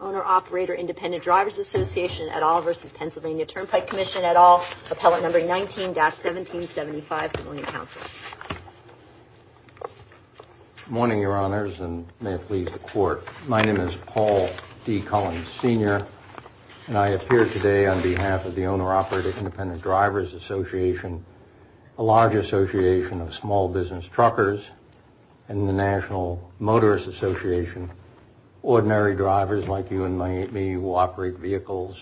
Owner Operator Independent Drivers Association at all v. PA Turnpike Commission at all, Appellate No. 19-1775, Planning Council. Good morning, Your Honors, and may it please the Court. My name is Paul E. Collins, Sr., and I appear today on behalf of the Owner Operator Independent Drivers Association, a large association of small business truckers, and the National Motorist Association. Ordinary drivers like you and me will operate vehicles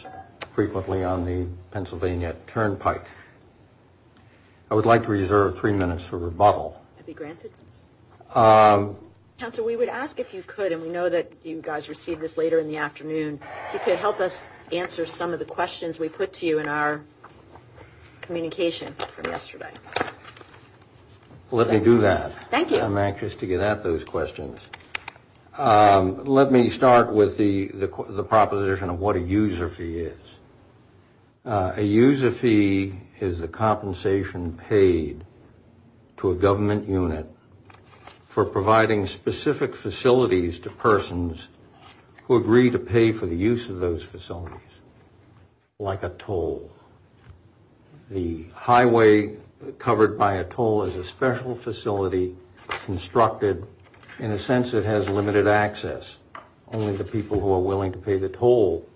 frequently on the Pennsylvania Turnpike. I would like to reserve three minutes for rebuttal. Counsel, we would ask if you could, and we know that you guys received this later in the afternoon, if you could help us answer some of the questions we put to you in our communication from yesterday. Let me do that. Thank you. I'm anxious to get at those questions. Let me start with the proposition of what a user fee is. A user fee is a compensation paid to a government unit for providing specific facilities to persons who agree to pay for the use of those facilities, like a toll. The highway covered by a toll is a special facility constructed in a sense that has limited access. Only the people who are willing to pay the toll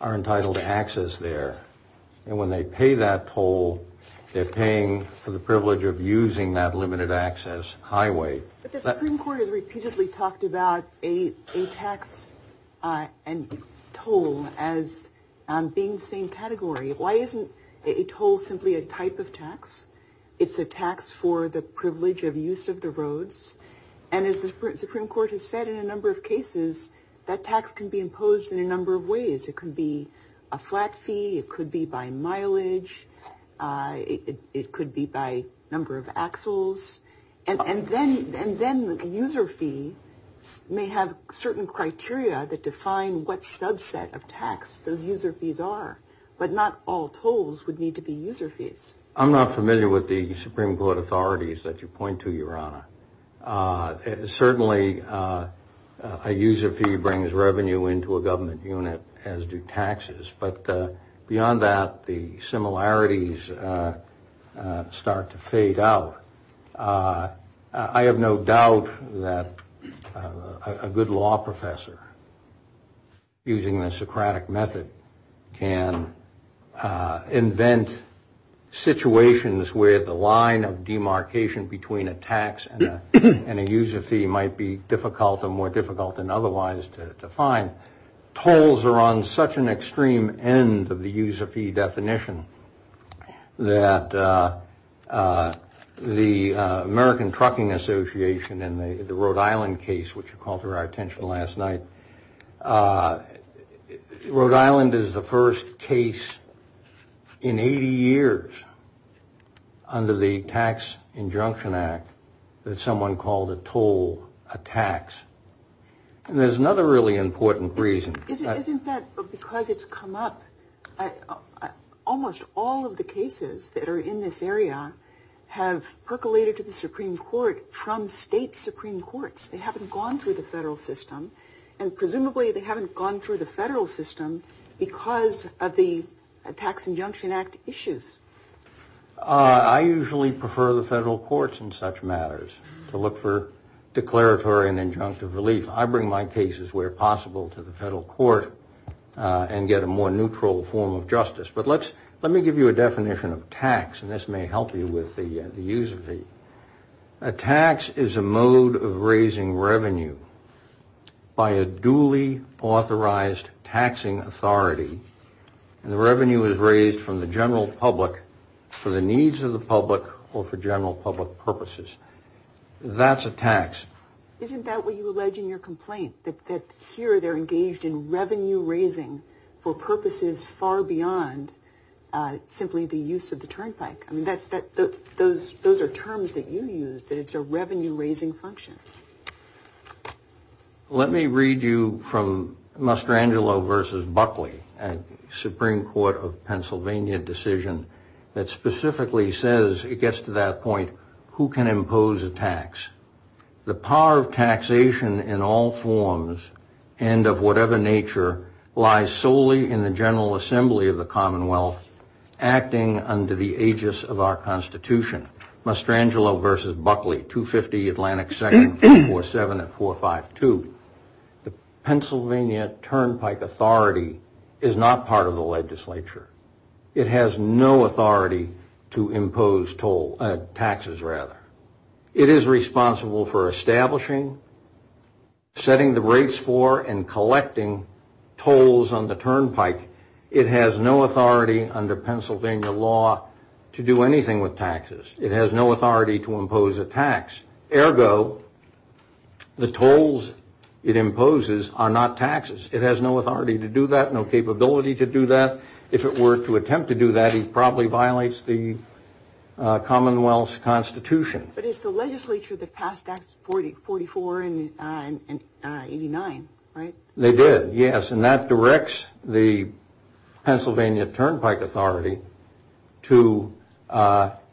are entitled to access there. And when they pay that toll, they're paying for the privilege of using that limited access highway. But the Supreme Court has repeatedly talked about a tax and toll as being the same category. Why isn't a toll simply a type of tax? It's a tax for the privilege of use of the roads. And as the Supreme Court has said in a number of cases, that tax can be imposed in a number of ways. It could be a flat fee, it could be by mileage, it could be by number of axles. And then the user fee may have certain criteria that define what subset of tax those user fees are. But not all tolls would need to be user fees. I'm not familiar with the Supreme Court authorities that you point to, Your Honor. Certainly, a user fee brings revenue into a government unit, as do taxes. But beyond that, the similarities start to fade out. I have no doubt that a good law professor, using the Socratic method, can invent situations where the line of demarcation between a tax and a user fee might be difficult or more difficult than otherwise to find. Tolls are on such an extreme end of the user fee definition that the American Trucking Association in the Rhode Island case, which you called to our attention last night, Rhode Island is the first case in 80 years under the Tax Injunction Act that someone called a toll a tax. There's another really important reason. Isn't that because it's come up? Almost all of the cases that are in this area have percolated to the Supreme Court from state Supreme Courts. They haven't gone through the federal system. And presumably, they haven't gone through the federal system because of the Tax Injunction Act issues. I usually prefer the federal courts in such matters to look for declaratory and injunctive relief. I bring my cases, where possible, to the federal court and get a more neutral form of justice. But let me give you a definition of tax, and this may help you with the user fee. A tax is a mode of raising revenue by a duly authorized taxing authority. And the revenue is raised from the general public for the needs of the public or for general public purposes. That's a tax. Isn't that what you allege in your complaint, that here they're engaged in revenue-raising for purposes far beyond simply the use of the turnpike? Those are terms that you use, that it's a revenue-raising function. Let me read you from Mastrangelo v. Buckley, a Supreme Court of Pennsylvania decision that specifically says, it gets to that point, who can impose a tax? The power of taxation in all forms and of whatever nature lies solely in the general assembly of the Commonwealth acting under the aegis of our Constitution. Mastrangelo v. Buckley, 250 Atlantic 7447452. The Pennsylvania turnpike authority is not part of the legislature. It has no authority to impose taxes. It is responsible for establishing, setting the rates for, and collecting tolls on the turnpike. It has no authority under Pennsylvania law to do anything with taxes. It has no authority to impose a tax. Ergo, the tolls it imposes are not taxes. It has no authority to do that, no capability to do that. If it were to attempt to do that, it probably violates the Commonwealth's Constitution. But it's the legislature that passed Acts 44 and 89, right? They did, yes. And that directs the Pennsylvania turnpike authority to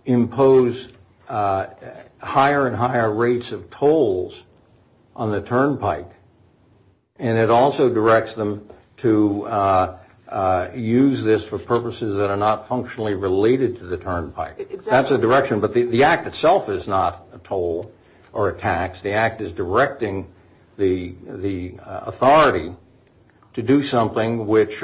impose higher and higher rates of tolls on the turnpike. And it also directs them to use this for purposes that are not functionally related to the turnpike. That's a direction. But the Act itself is not a toll or a tax. The Act is directing the authority to do something which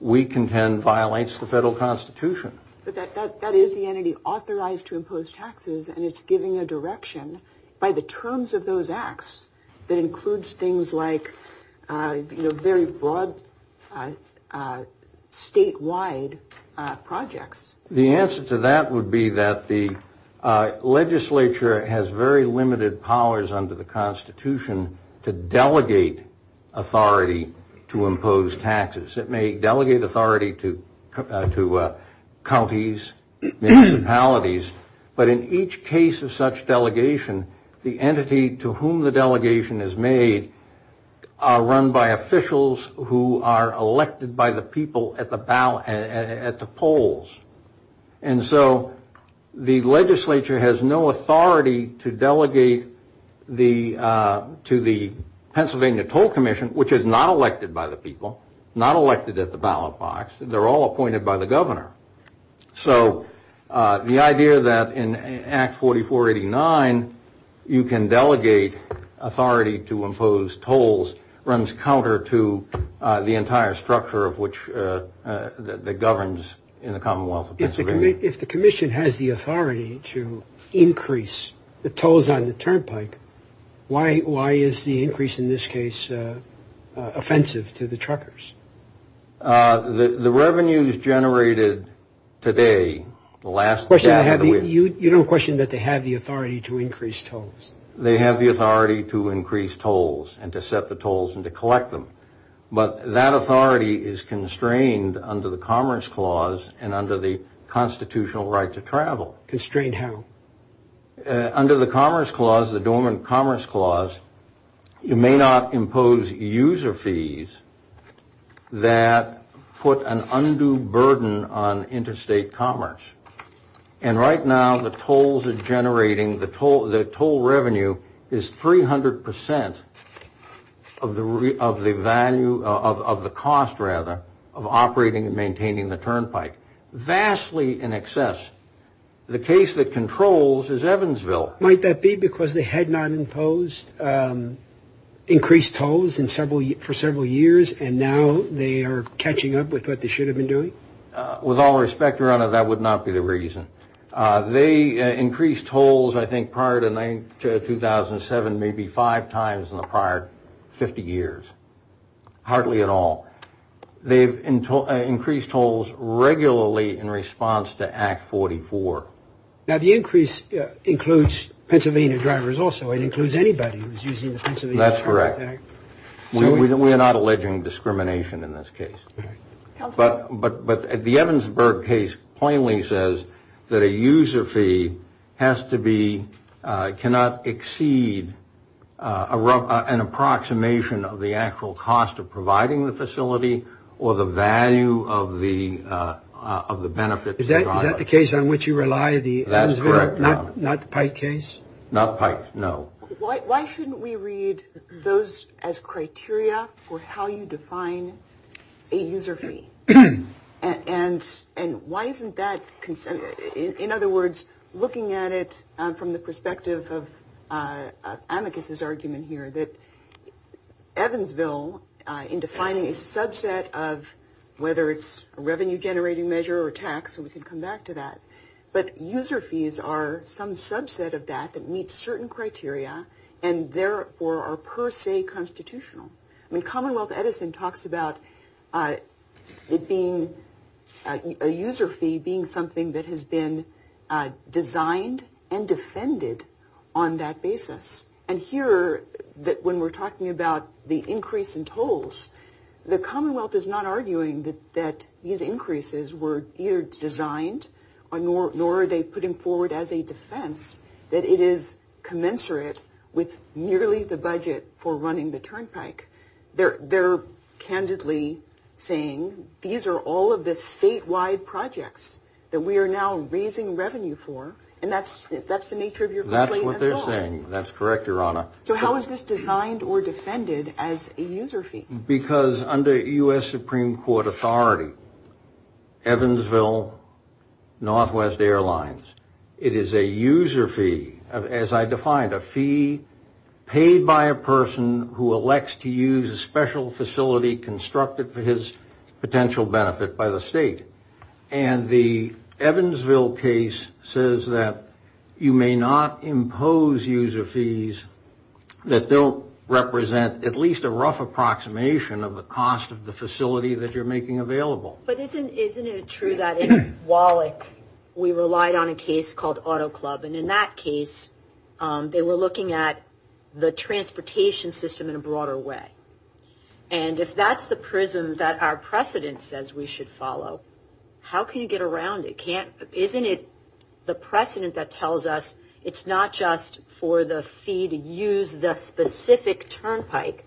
we contend violates the federal Constitution. But that is the entity authorized to impose taxes, and it's giving a direction by the terms of those Acts that includes things like very broad statewide projects. The answer to that would be that the legislature has very limited powers under the Constitution to delegate authority to impose taxes. It may delegate authority to counties, municipalities, but in each case of such delegation, the entity to whom the delegation is made are run by officials who are elected by the people at the polls. And so the legislature has no authority to delegate to the Pennsylvania Toll Commission, which is not elected by the people, not elected at the ballot box. They're all appointed by the governor. So the idea that in Act 4489 you can delegate authority to impose tolls runs counter to the entire structure that governs in the Commonwealth of Pennsylvania. If the commission has the authority to increase the tolls on the turnpike, why is the increase in this case offensive to the truckers? The revenues generated today last... You don't question that they have the authority to increase tolls? They have the authority to increase tolls and to set the tolls and to collect them. But that authority is constrained under the Commerce Clause and under the constitutional right to travel. Constrained how? Under the Commerce Clause, the Dormant Commerce Clause, you may not impose user fees that put an undue burden on interstate commerce. And right now the tolls are generating... of the value... of the cost, rather, of operating and maintaining the turnpike. Vastly in excess. The case that controls is Evansville. Might that be because they had not imposed increased tolls for several years, and now they are catching up with what they should have been doing? With all respect, Your Honor, that would not be the reason. They increased tolls, I think, prior to 2007 maybe five times in the prior 50 years. Hardly at all. They've increased tolls regularly in response to Act 44. Now, the increase includes Pennsylvania drivers also. It includes anybody who's using the Pennsylvania turnpike. That's correct. We are not alleging discrimination in this case. But the Evansville case plainly says that a user fee has to be... cannot exceed an approximation of the actual cost of providing the facility or the value of the benefit provided. Is that the case on which you rely, the Evansville? That's correct, no. Not the Pike case? Not Pike, no. Why shouldn't we read those as criteria for how you define a user fee? And why isn't that considered? In other words, looking at it from the perspective of Amicus's argument here, that Evansville, in defining a subset of whether it's a revenue-generating measure or tax, and we can come back to that, but user fees are some subset of that that meets certain criteria and therefore are per se constitutional. I mean, Commonwealth Edison talks about it being... a user fee being something that has been designed and defended on that basis. And here, when we're talking about the increase in tolls, the Commonwealth is not arguing that these increases were either designed nor are they putting forward as a defense that it is commensurate with nearly the budget for running the Turnpike. They're candidly saying, these are all of the statewide projects that we are now raising revenue for, and that's the nature of your complaint at all. That's what they're saying. That's correct, Your Honor. So how is this designed or defended as a user fee? Because under U.S. Supreme Court authority, Evansville, Northwest Airlines, it is a user fee, as I defined, a fee paid by a person who elects to use a special facility constructed for his potential benefit by the state. And the Evansville case says that you may not impose user fees that don't represent at least a rough approximation of the cost of the facility that you're making available. But isn't it true that in Wallach, we relied on a case called Auto Club, and in that case, they were looking at the transportation system in a broader way. And if that's the prism that our precedent says we should follow, how can you get around it? Isn't it the precedent that tells us it's not just for the fee to use the specific Turnpike,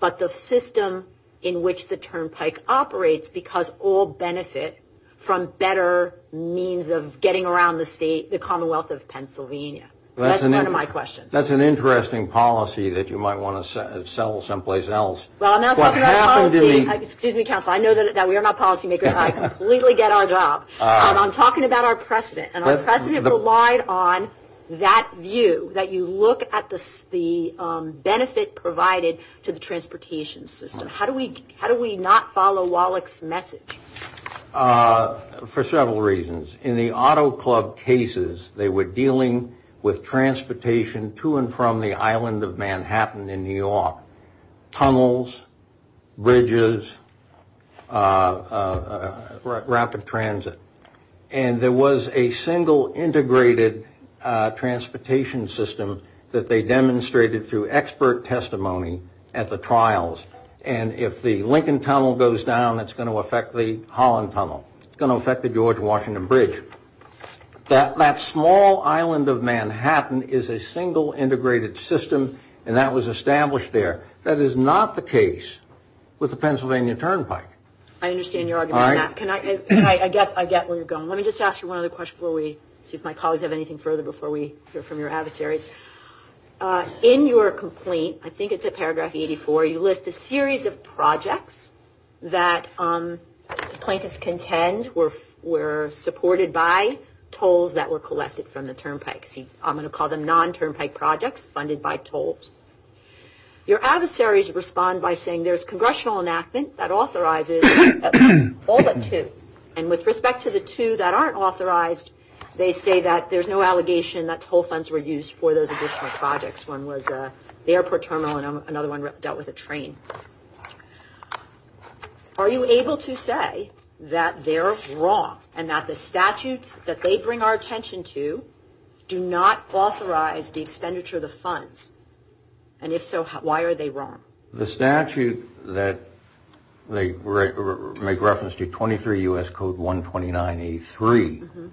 but the system in which the Turnpike operates because all benefit from better means of getting around the Commonwealth of Pennsylvania? That's part of my question. That's an interesting policy that you might want to settle someplace else. Well, I'm not talking about policy. Excuse me, counsel. I know that we are not policy makers. I completely get our job. And I'm talking about our precedent, and our precedent relied on that view, that you look at the benefit provided to the transportation system. How do we not follow Wallach's message? For several reasons. In the Auto Club cases, they were dealing with transportation to and from the island of Manhattan in New York. Tunnels, bridges, rapid transit. And there was a single integrated transportation system that they demonstrated through expert testimony at the trials. And if the Lincoln Tunnel goes down, it's going to affect the Holland Tunnel. It's going to affect the George Washington Bridge. That small island of Manhattan is a single integrated system, and that was established there. That is not the case with the Pennsylvania Turnpike. I understand your argument. I get where you're going. Let me just ask you one other question before we see if my colleagues have anything further before we hear from your adversaries. In your complaint, I think it's at paragraph 84, you list a series of projects that plaintiffs contend were supported by tolls that were collected from the Turnpike. I'm going to call them non-Turnpike projects funded by tolls. Your adversaries respond by saying there's congressional enactment that authorizes all but two. And with respect to the two that aren't authorized, they say that there's no allegation that toll funds were used for those additional projects. One was the airport terminal, and another one dealt with a train. Are you able to say that they're wrong and that the statutes that they bring our attention to do not authorize the expenditure of the funds? And if so, why are they wrong? The statute that they make reference to, 23 U.S. Code 129.83,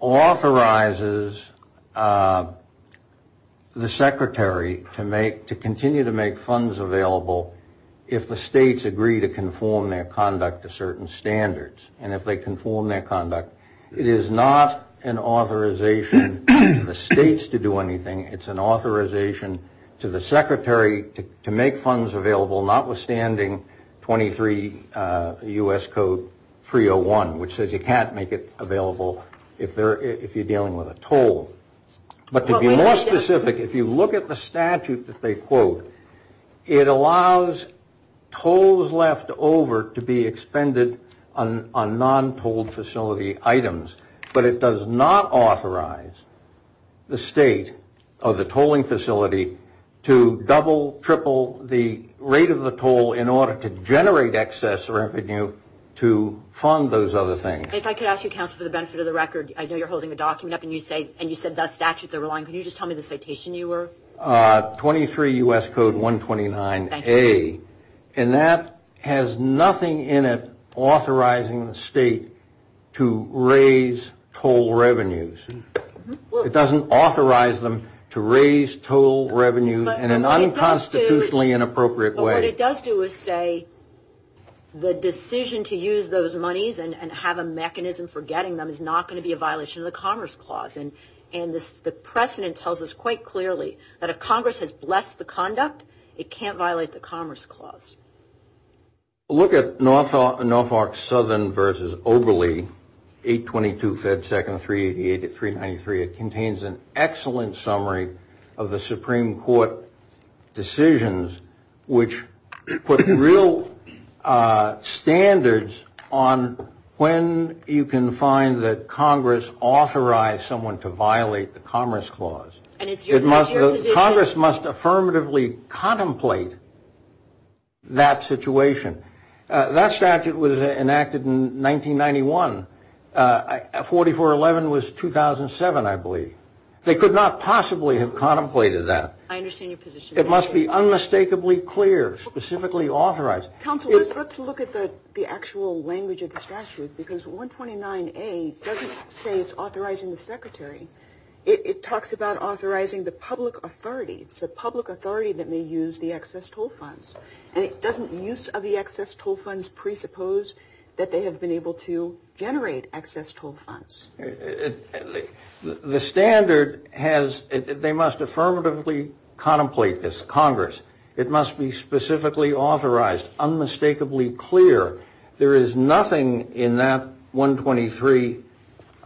authorizes the secretary to continue to make funds available if the states agree to conform their conduct to certain standards. And if they conform their conduct, it is not an authorization for the states to do anything. It's an authorization to the secretary to make funds available notwithstanding 23 U.S. Code 301, which says you can't make it available if you're dealing with a toll. But to be more specific, if you look at the statute that they quote, it allows tolls left over to be expended on non-tolled facility items. But it does not authorize the state of the tolling facility to double, triple the rate of the toll in order to generate excess revenue to fund those other things. If I could ask you, counsel, for the benefit of the record, I know you're holding a document up, and you said that statute they're relying on. Can you just tell me the citation you were? 23 U.S. Code 129A. And that has nothing in it authorizing the state to raise toll revenues. It doesn't authorize them to raise toll revenues in an unconstitutionally inappropriate way. But what it does do is say the decision to use those monies and have a mechanism for getting them is not going to be a violation of the Commerce Clause. And the precedent tells us quite clearly that if Congress has blessed the conduct, it can't violate the Commerce Clause. Look at Norfolk Southern v. Oberle, 822 Fed 2nd 388-393. It contains an excellent summary of the Supreme Court decisions which put real standards on when you can find that Congress authorized someone to violate the Commerce Clause. Congress must affirmatively contemplate that situation. That statute was enacted in 1991. 4411 was 2007, I believe. They could not possibly have contemplated that. It must be unmistakably clear, specifically authorized. Counsel, let's look at the actual language of the statute because 129A doesn't say it's authorizing the Secretary. It talks about authorizing the public authority. The public authority that may use the excess toll funds. And it doesn't use of the excess toll funds presuppose that they have been able to generate excess toll funds. The standard has, they must affirmatively contemplate this. Congress, it must be specifically authorized. Unmistakably clear. There is nothing in that 123,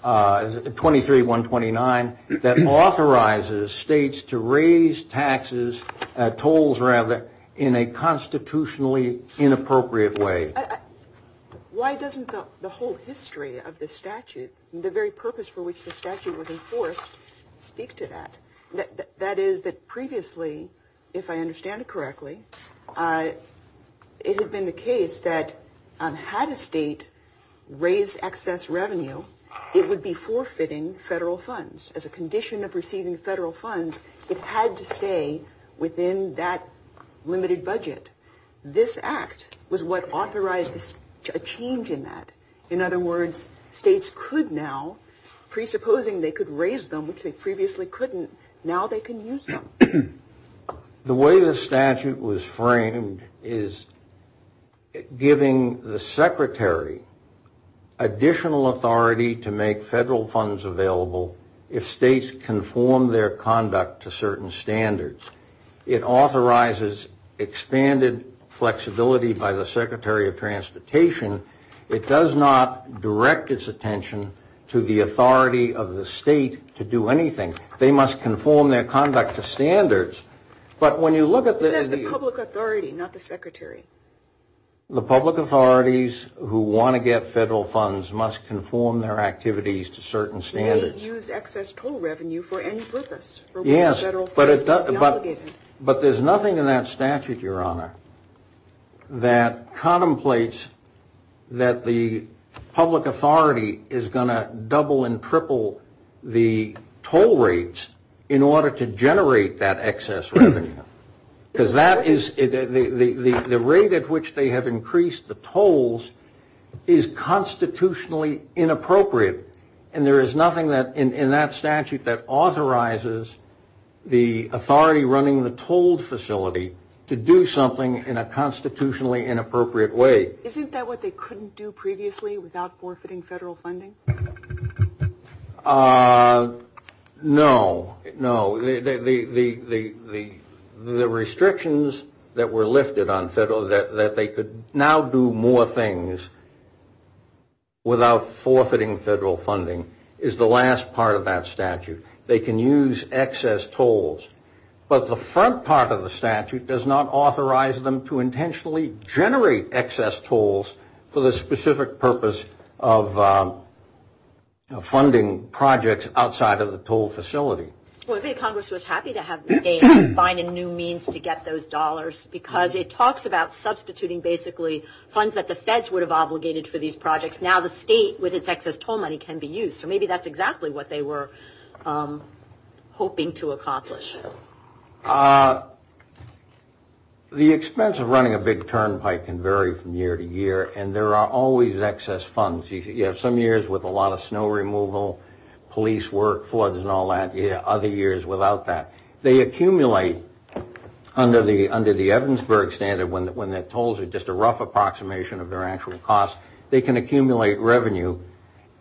23-129, that authorizes states to raise taxes, tolls rather, in a constitutionally inappropriate way. Why doesn't the whole history of this statute, the very purpose for which the statute was enforced, speak to that? That is that previously, if I understand it correctly, it had been the case that had a state raised excess revenue, it would be forfeiting federal funds. As a condition of receiving federal funds, it had to stay within that limited budget. This act was what authorized a change in that. In other words, states could now, presupposing they could raise them, which they previously couldn't, now they can use them. The way this statute was framed is giving the secretary additional authority to make federal funds available if states conform their conduct to certain standards. It authorizes expanded flexibility by the Secretary of Transportation. It does not direct its attention to the authority of the state to do anything. They must conform their conduct to standards. But when you look at the... But that's the public authority, not the secretary. The public authorities who want to get federal funds must conform their activities to certain standards. We can't use excess toll revenue for any purpose. Yes, but there's nothing in that statute, Your Honor, that contemplates that the public authority is going to double and triple the toll rates in order to generate that excess revenue. Because that is... The rate at which they have increased the tolls is constitutionally inappropriate. And there is nothing in that statute that authorizes the authority running the toll facility to do something in a constitutionally inappropriate way. Isn't that what they couldn't do previously without forfeiting federal funding? No, no. The restrictions that were lifted on federal... that they could now do more things without forfeiting federal funding is the last part of that statute. They can use excess tolls. But the front part of the statute does not authorize them to intentionally generate excess tolls for the specific purpose of funding projects outside of the toll facility. Well, I think Congress was happy to have the state find a new means to get those dollars because it talks about substituting basically funds that the feds would have obligated for these projects. Now the state, with its excess toll money, can be used. So maybe that's exactly what they were hoping to accomplish. The expense of running a big turnpike can vary from year to year, and there are always excess funds. Some years with a lot of snow removal, police work, floods and all that. Other years without that. They accumulate under the Evansburg standard when the tolls are just a rough approximation of their actual cost. They can accumulate revenue.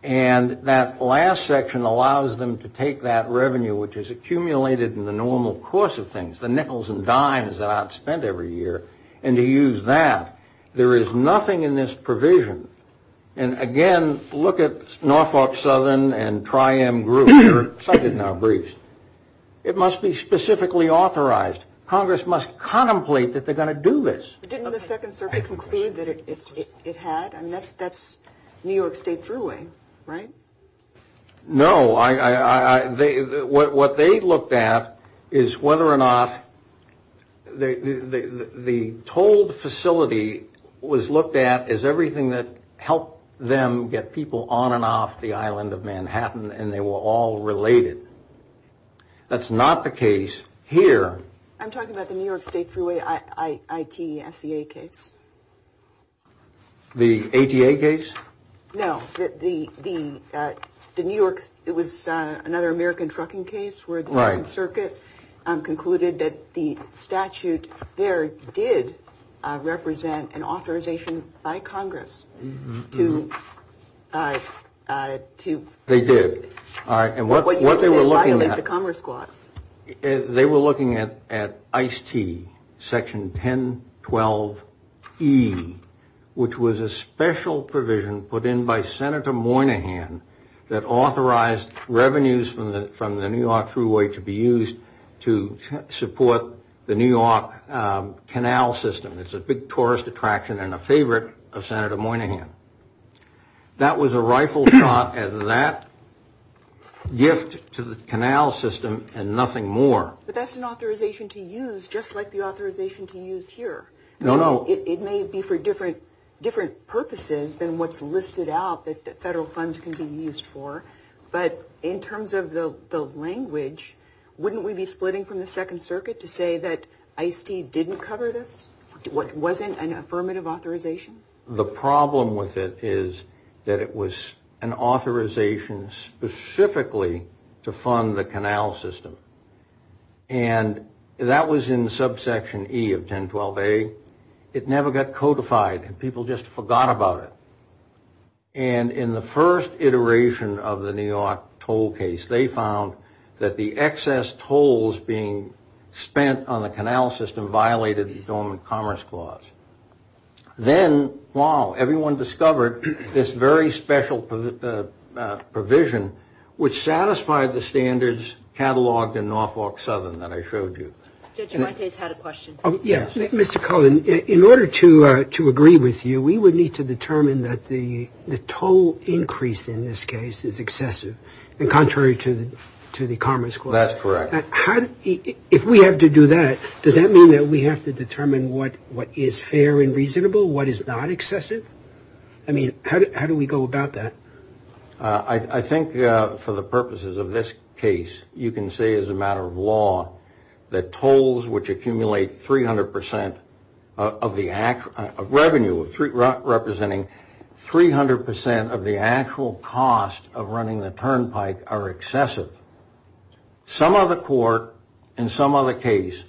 And that last section allows them to take that revenue, which is accumulated in the normal course of things, the nickels and dimes that I've spent every year, and to use that. There is nothing in this provision. And again, look at Norfolk Southern and Tri-M Group. They're cited now briefly. It must be specifically authorized. Congress must contemplate that they're going to do this. Didn't the Second Circuit conclude that it had? I mean, that's New York State's ruling, right? No. What they looked at is whether or not the toll facility was looked at as everything that helped them get people on and off the island of Manhattan, and they were all related. That's not the case here. I'm talking about the New York State Freeway I.T.S.E.A. case. The A.T.A. case? No. The New York, it was another American trucking case where the Second Circuit concluded that the statute there did represent an authorization by Congress to... They did. And what they were looking at... They were looking at I.T.S.E.A., Section 1012E, which was a special provision put in by Senator Moynihan that authorized revenues from the New York Freeway to be used to support the New York canal system. It's a big tourist attraction and a favorite of Senator Moynihan. That was a rifle shot at that gift to the canal system and nothing more. But that's an authorization to use just like the authorization to use here. No, no. It may be for different purposes than what's listed out that federal funds can be used for, but in terms of the language, wouldn't we be splitting from the Second Circuit to say that I.T.S.E.A. didn't cover this, wasn't an affirmative authorization? The problem with it is that it was an authorization specifically to fund the canal system. And that was in Subsection E of 1012A. It never got codified. People just forgot about it. And in the first iteration of the New York toll case, they found that the excess tolls being spent on the canal system violated the Dormant Commerce Clause. Then, wow, everyone discovered this very special provision which satisfied the standards cataloged in Norfolk Southern that I showed you. Judge, my case had a question. Yes, Mr. Cohen. In order to agree with you, we would need to determine that the toll increase in this case is excessive and contrary to the Commerce Clause. That's correct. If we have to do that, does that mean that we have to determine what is fair and reasonable, what is not excessive? I mean, how do we go about that? I think for the purposes of this case, you can say as a matter of law that tolls which accumulate 300% of revenue, representing 300% of the actual cost of running the turnpike, are excessive. Some other court in some other case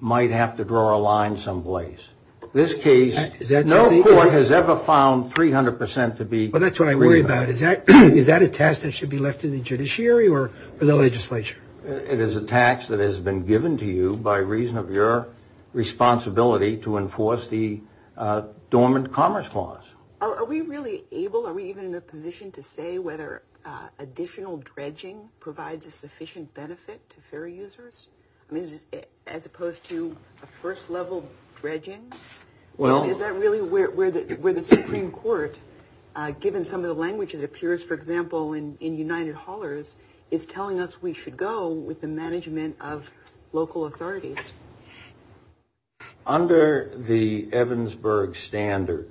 might have to draw a line someplace. This case, no court has ever found 300% to be reasonable. Well, that's what I worry about. Is that a task that should be left to the judiciary or the legislature? It is a task that has been given to you by reason of your responsibility to enforce the Dormant Commerce Clause. Are we really able, are we even in a position to say whether additional dredging provides a sufficient benefit to fare users as opposed to a first-level dredging? Is that really where the Supreme Court, given some of the language that appears, for example, in United Haulers, is telling us we should go with the management of local authorities? Under the Evansburg Standard,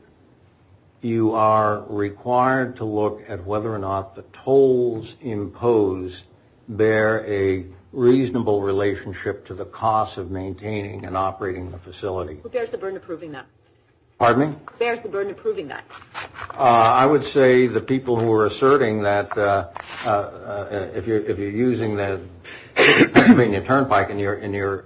you are required to look at whether or not the tolls imposed bear a reasonable relationship to the cost of maintaining and operating the facility. Who bears the burden of proving that? Pardon me? Who bears the burden of proving that? I would say the people who are asserting that if you're using the turnpike and you're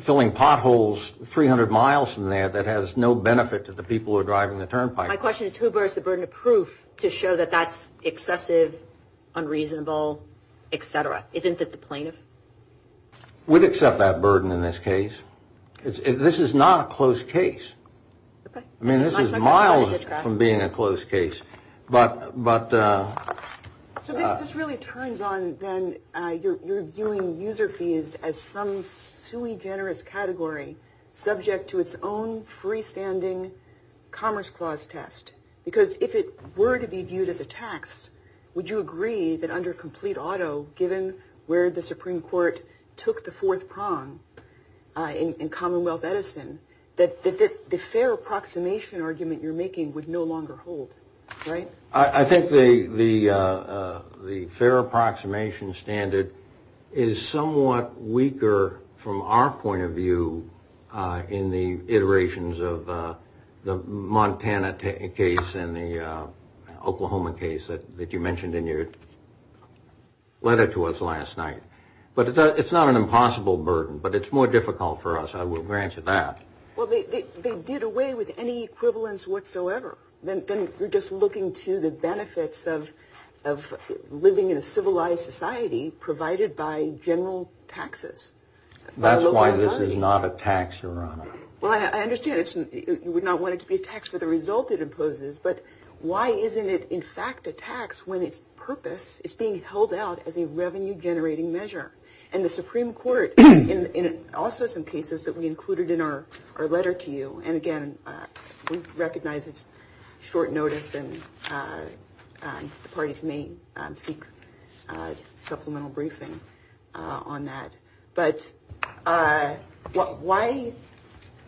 filling potholes 300 miles from there, that has no benefit to the people who are driving the turnpike. My question is who bears the burden of proof to show that that's excessive, unreasonable, et cetera? Isn't it the plaintiff? We'd accept that burden in this case. This is not a closed case. I mean, this is miles from being a closed case. So this really turns on, then, you're viewing user fees as some sui generis category subject to its own freestanding Commerce Clause test. Because if it were to be viewed as a tax, would you agree that under complete auto, given where the Supreme Court took the fourth prong in Commonwealth Edison, that the fair approximation argument you're making would no longer hold? I think the fair approximation standard is somewhat weaker from our point of view in the iterations of the Montana case and the Oklahoma case that you mentioned in your letter to us last night. But it's not an impossible burden. But it's more difficult for us, I will grant you that. Well, they did away with any equivalence whatsoever. Then we're just looking to the benefits of living in a civilized society provided by general taxes. That's why this is not a tax, Your Honor. Well, I understand you would not want it to be a tax for the result it imposes. But why isn't it, in fact, a tax when its purpose is being held out as a revenue-generating measure? And the Supreme Court, in all sorts of cases that we included in our letter to you, and again, we recognize it's short notice and the parties may seek supplemental briefing on that. But why,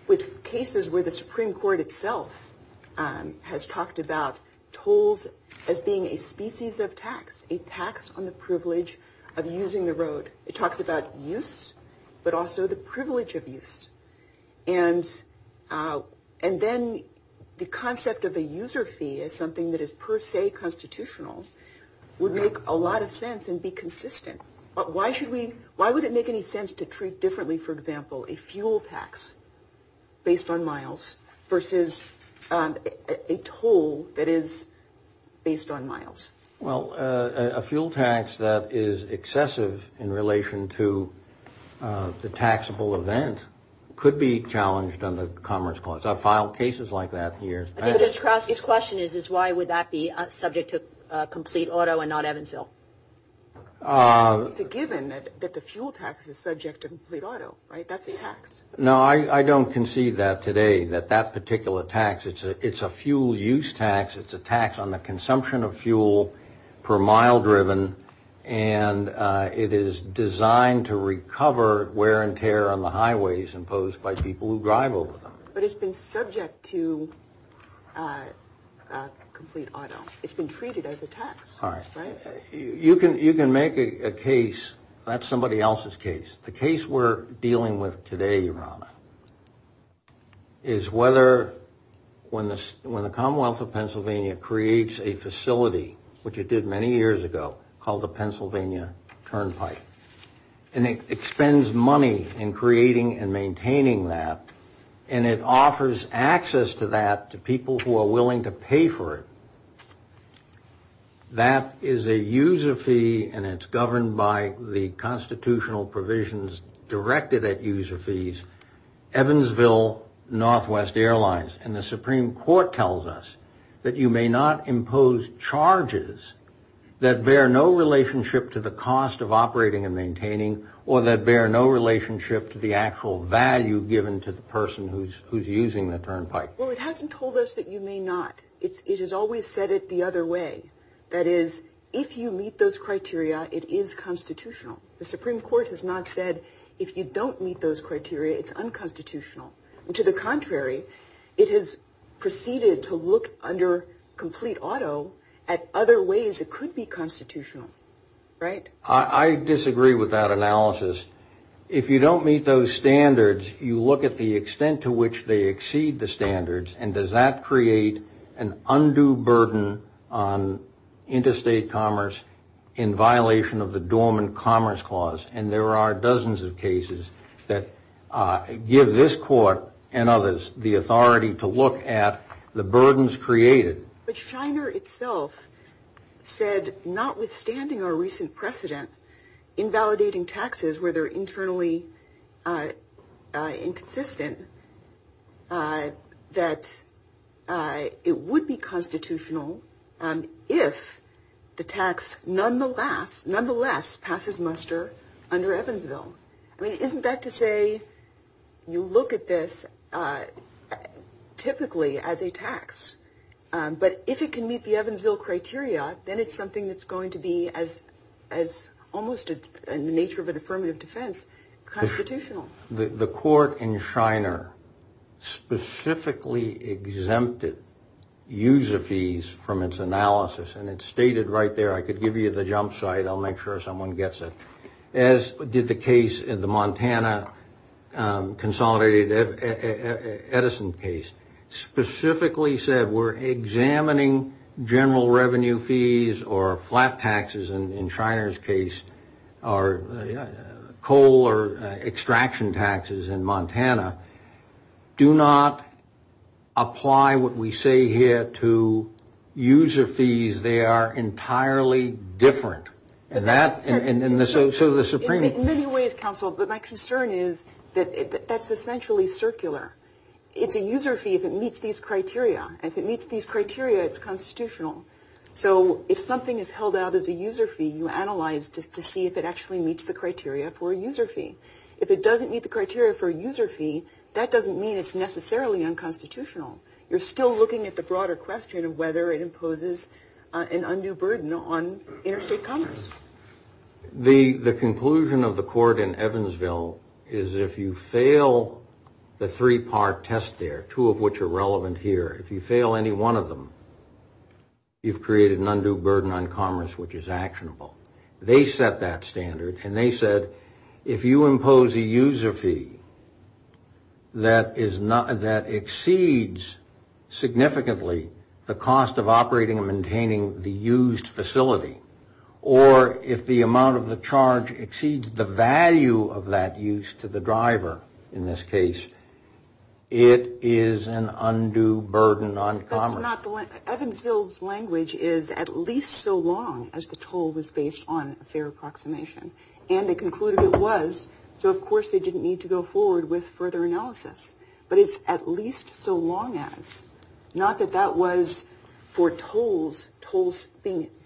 with cases where the Supreme Court itself has talked about tolls as being a species of tax, a tax on the privilege of using the road, it talks about use but also the privilege of use. And then the concept of a user fee as something that is per se constitutional would make a lot of sense and be consistent. But why would it make any sense to treat differently, for example, a fuel tax based on miles versus a toll that is based on miles? Well, a fuel tax that is excessive in relation to the taxable event could be challenged under the Commerce Clause. I've filed cases like that in years. I think this question is why would that be subject to complete auto and not Evansville? It's a given that the fuel tax is subject to complete auto, right? That's a tax. No, I don't concede that today, that that particular tax. It's a fuel use tax. It's a tax on the consumption of fuel per mile driven, and it is designed to recover wear and tear on the highways imposed by people who drive over them. But it's been subject to complete auto. It's been treated as a tax, right? You can make a case. That's somebody else's case. The case we're dealing with today, Rana, is whether when the Commonwealth of Pennsylvania creates a facility, which it did many years ago, called the Pennsylvania Turnpike, and it expends money in creating and maintaining that, and it offers access to that to people who are willing to pay for it. That is a user fee, and it's governed by the constitutional provisions directed at user fees, Evansville Northwest Airlines. And the Supreme Court tells us that you may not impose charges that bear no relationship to the cost of operating and maintaining or that bear no relationship to the actual value given to the person who's using the turnpike. Well, it hasn't told us that you may not. It has always said it the other way. That is, if you meet those criteria, it is constitutional. The Supreme Court has not said, if you don't meet those criteria, it's unconstitutional. To the contrary, it has proceeded to look under complete auto at other ways it could be constitutional. Right. I disagree with that analysis. If you don't meet those standards, you look at the extent to which they exceed the standards, and does that create an undue burden on interstate commerce in violation of the Dorman Commerce Clause? And there are dozens of cases that give this court and others the authority to look at the burdens created. But Shiner itself said, notwithstanding our recent precedent in validating taxes where they're internally inconsistent, that it would be constitutional if the tax nonetheless passes muster under Evansville. I mean, isn't that to say you look at this typically as a tax? But if it can meet the Evansville criteria, then it's something that's going to be, almost in the nature of an affirmative defense, constitutional. The court in Shiner specifically exempted user fees from its analysis. And it's stated right there. I could give you the jump site. I'll make sure someone gets it. As did the case in the Montana Consolidated Edison case. Specifically said, we're examining general revenue fees or flat taxes, in Shiner's case, or coal or extraction taxes in Montana. Do not apply what we say here to user fees. They are entirely different. In many ways, counsel, but my concern is that that's essentially circular. It's a user fee that meets these criteria. As it meets these criteria, it's constitutional. So if something is held out as a user fee, you analyze to see if it actually meets the criteria for a user fee. If it doesn't meet the criteria for a user fee, that doesn't mean it's necessarily unconstitutional. You're still looking at the broader question of whether it imposes an undue burden on interstate commerce. The conclusion of the court in Evansville is if you fail the three-part test there, two of which are relevant here, if you fail any one of them, you've created an undue burden on commerce, which is actionable. They set that standard, and they said if you impose a user fee that exceeds significantly the cost of operating or maintaining the used facility, or if the amount of the charge exceeds the value of that use to the driver, in this case, it is an undue burden on commerce. Evansville's language is at least so long as the toll was based on a fair approximation. And they concluded it was, so of course they didn't need to go forward with further analysis. But it's at least so long as. Not that that was for tolls, tolls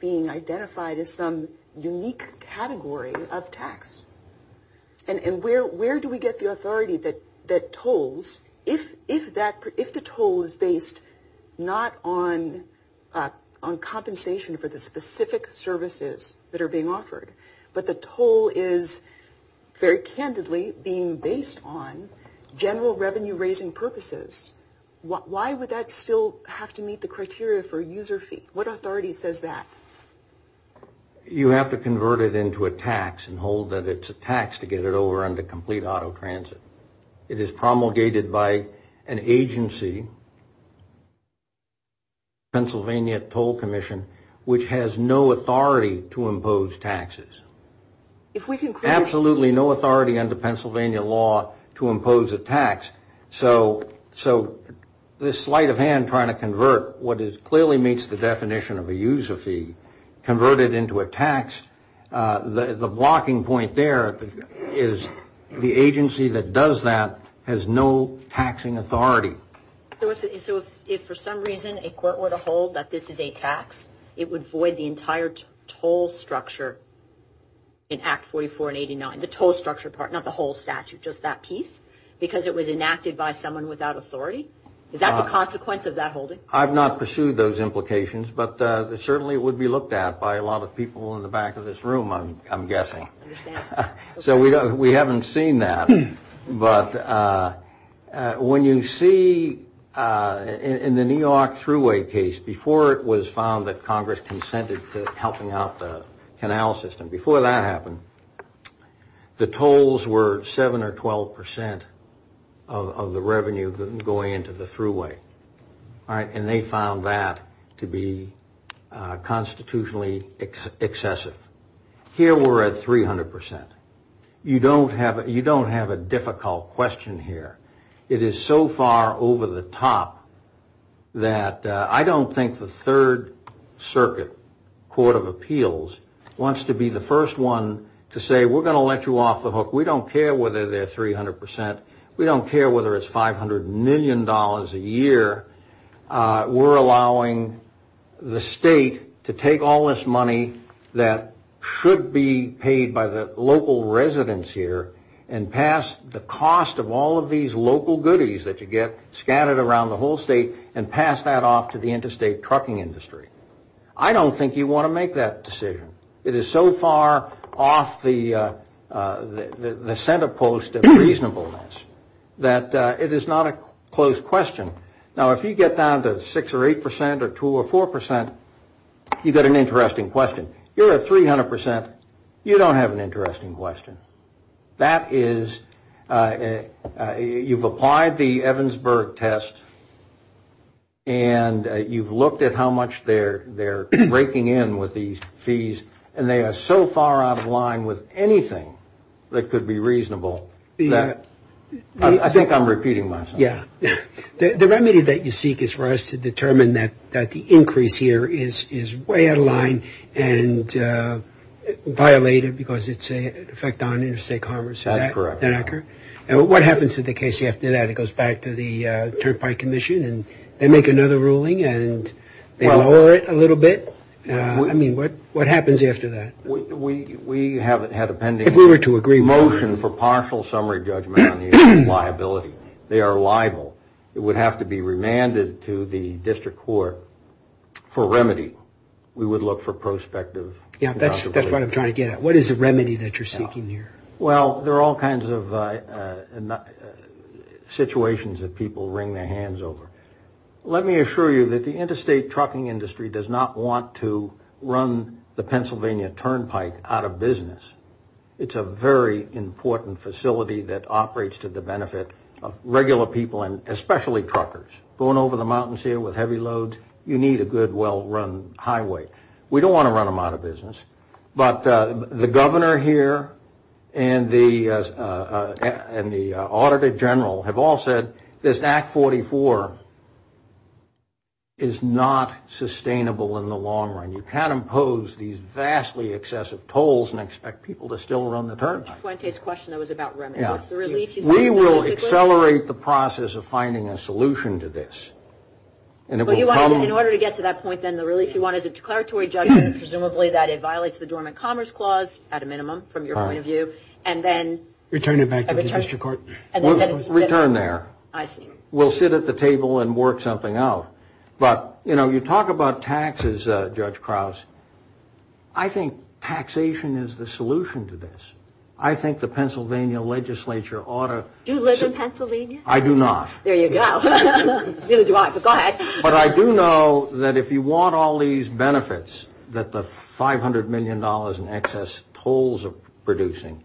being identified as some unique category of tax. And where do we get the authority that tolls, if the toll is based not on compensation for the specific services that are being offered, but the toll is very candidly being based on general revenue-raising purposes, why would that still have to meet the criteria for user fee? What authority says that? You have to convert it into a tax and hold that it's a tax to get it over under complete auto transit. It is promulgated by an agency, Pennsylvania Toll Commission, which has no authority to impose taxes. Absolutely no authority under Pennsylvania law to impose a tax. So this sleight of hand trying to convert what clearly meets the definition of a user fee, convert it into a tax, the blocking point there is the agency that does that has no taxing authority. So if for some reason a court were to hold that this is a tax, it would void the entire toll structure in Act 44 and 89, the toll structure part, not the whole statute, just that piece, because it was enacted by someone without authority? Is that the consequence of that holding? I've not pursued those implications, but it certainly would be looked at by a lot of people in the back of this room, I'm guessing. So we haven't seen that. But when you see in the New York Thruway case, before it was found that Congress consented to helping out the canal system, before that happened, the tolls were 7 or 12 percent of the revenue going into the thruway. And they found that to be constitutionally excessive. Here we're at 300 percent. You don't have a difficult question here. It is so far over the top that I don't think the Third Circuit Court of Appeals wants to be the first one to say we're going to let you off the hook. We don't care whether they're 300 percent. We don't care whether it's $500 million a year. We're allowing the state to take all this money that should be paid by the local residents here and pass the cost of all of these local goodies that you get scattered around the whole state and pass that off to the interstate trucking industry. I don't think you want to make that decision. It is so far off the center post of reasonableness that it is not a close question. Now, if you get down to 6 or 8 percent or 2 or 4 percent, you get an interesting question. Here we're at 300 percent. You don't have an interesting question. You've applied the Evansburg test, and you've looked at how much they're raking in with these fees, and they are so far out of line with anything that could be reasonable. I think I'm repeating myself. The remedy that you seek is for us to determine that the increase here is way out of line and violated because it's an effect on interstate commerce. Is that correct? That's correct. What happens to the case after that? It goes back to the Turpike Commission, and they make another ruling, and they lower it a little bit. What happens after that? We have had a pending motion for partial summary judgment on the liability. They are liable. It would have to be remanded to the district court for remedy. We would look for prospective contributions. Yeah, that's what I'm trying to get at. What is the remedy that you're seeking here? Well, there are all kinds of situations that people wring their hands over. Let me assure you that the interstate trucking industry does not want to run the Pennsylvania Turnpike out of business. It's a very important facility that operates to the benefit of regular people and especially truckers. Going over the mountains here with heavy loads, you need a good, well-run highway. We don't want to run them out of business. But the governor here and the auditor general have all said this Act 44 is not sustainable in the long run. You can't impose these vastly excessive tolls and expect people to still run the Turnpike. That's Fuentes' question that was about remedy. We will accelerate the process of finding a solution to this. In order to get to that point, then, the release, you want a declaratory judgment, presumably that it violates the Dormant Commerce Clause, at a minimum, from your point of view. Return it back to the district court. Return there. I see. We'll sit at the table and work something out. You talk about taxes, Judge Krause. I think taxation is the solution to this. I think the Pennsylvania legislature ought to... Do you live in Pennsylvania? I do not. There you go. Go ahead. But I do know that if you want all these benefits that the $500 million in excess tolls are producing,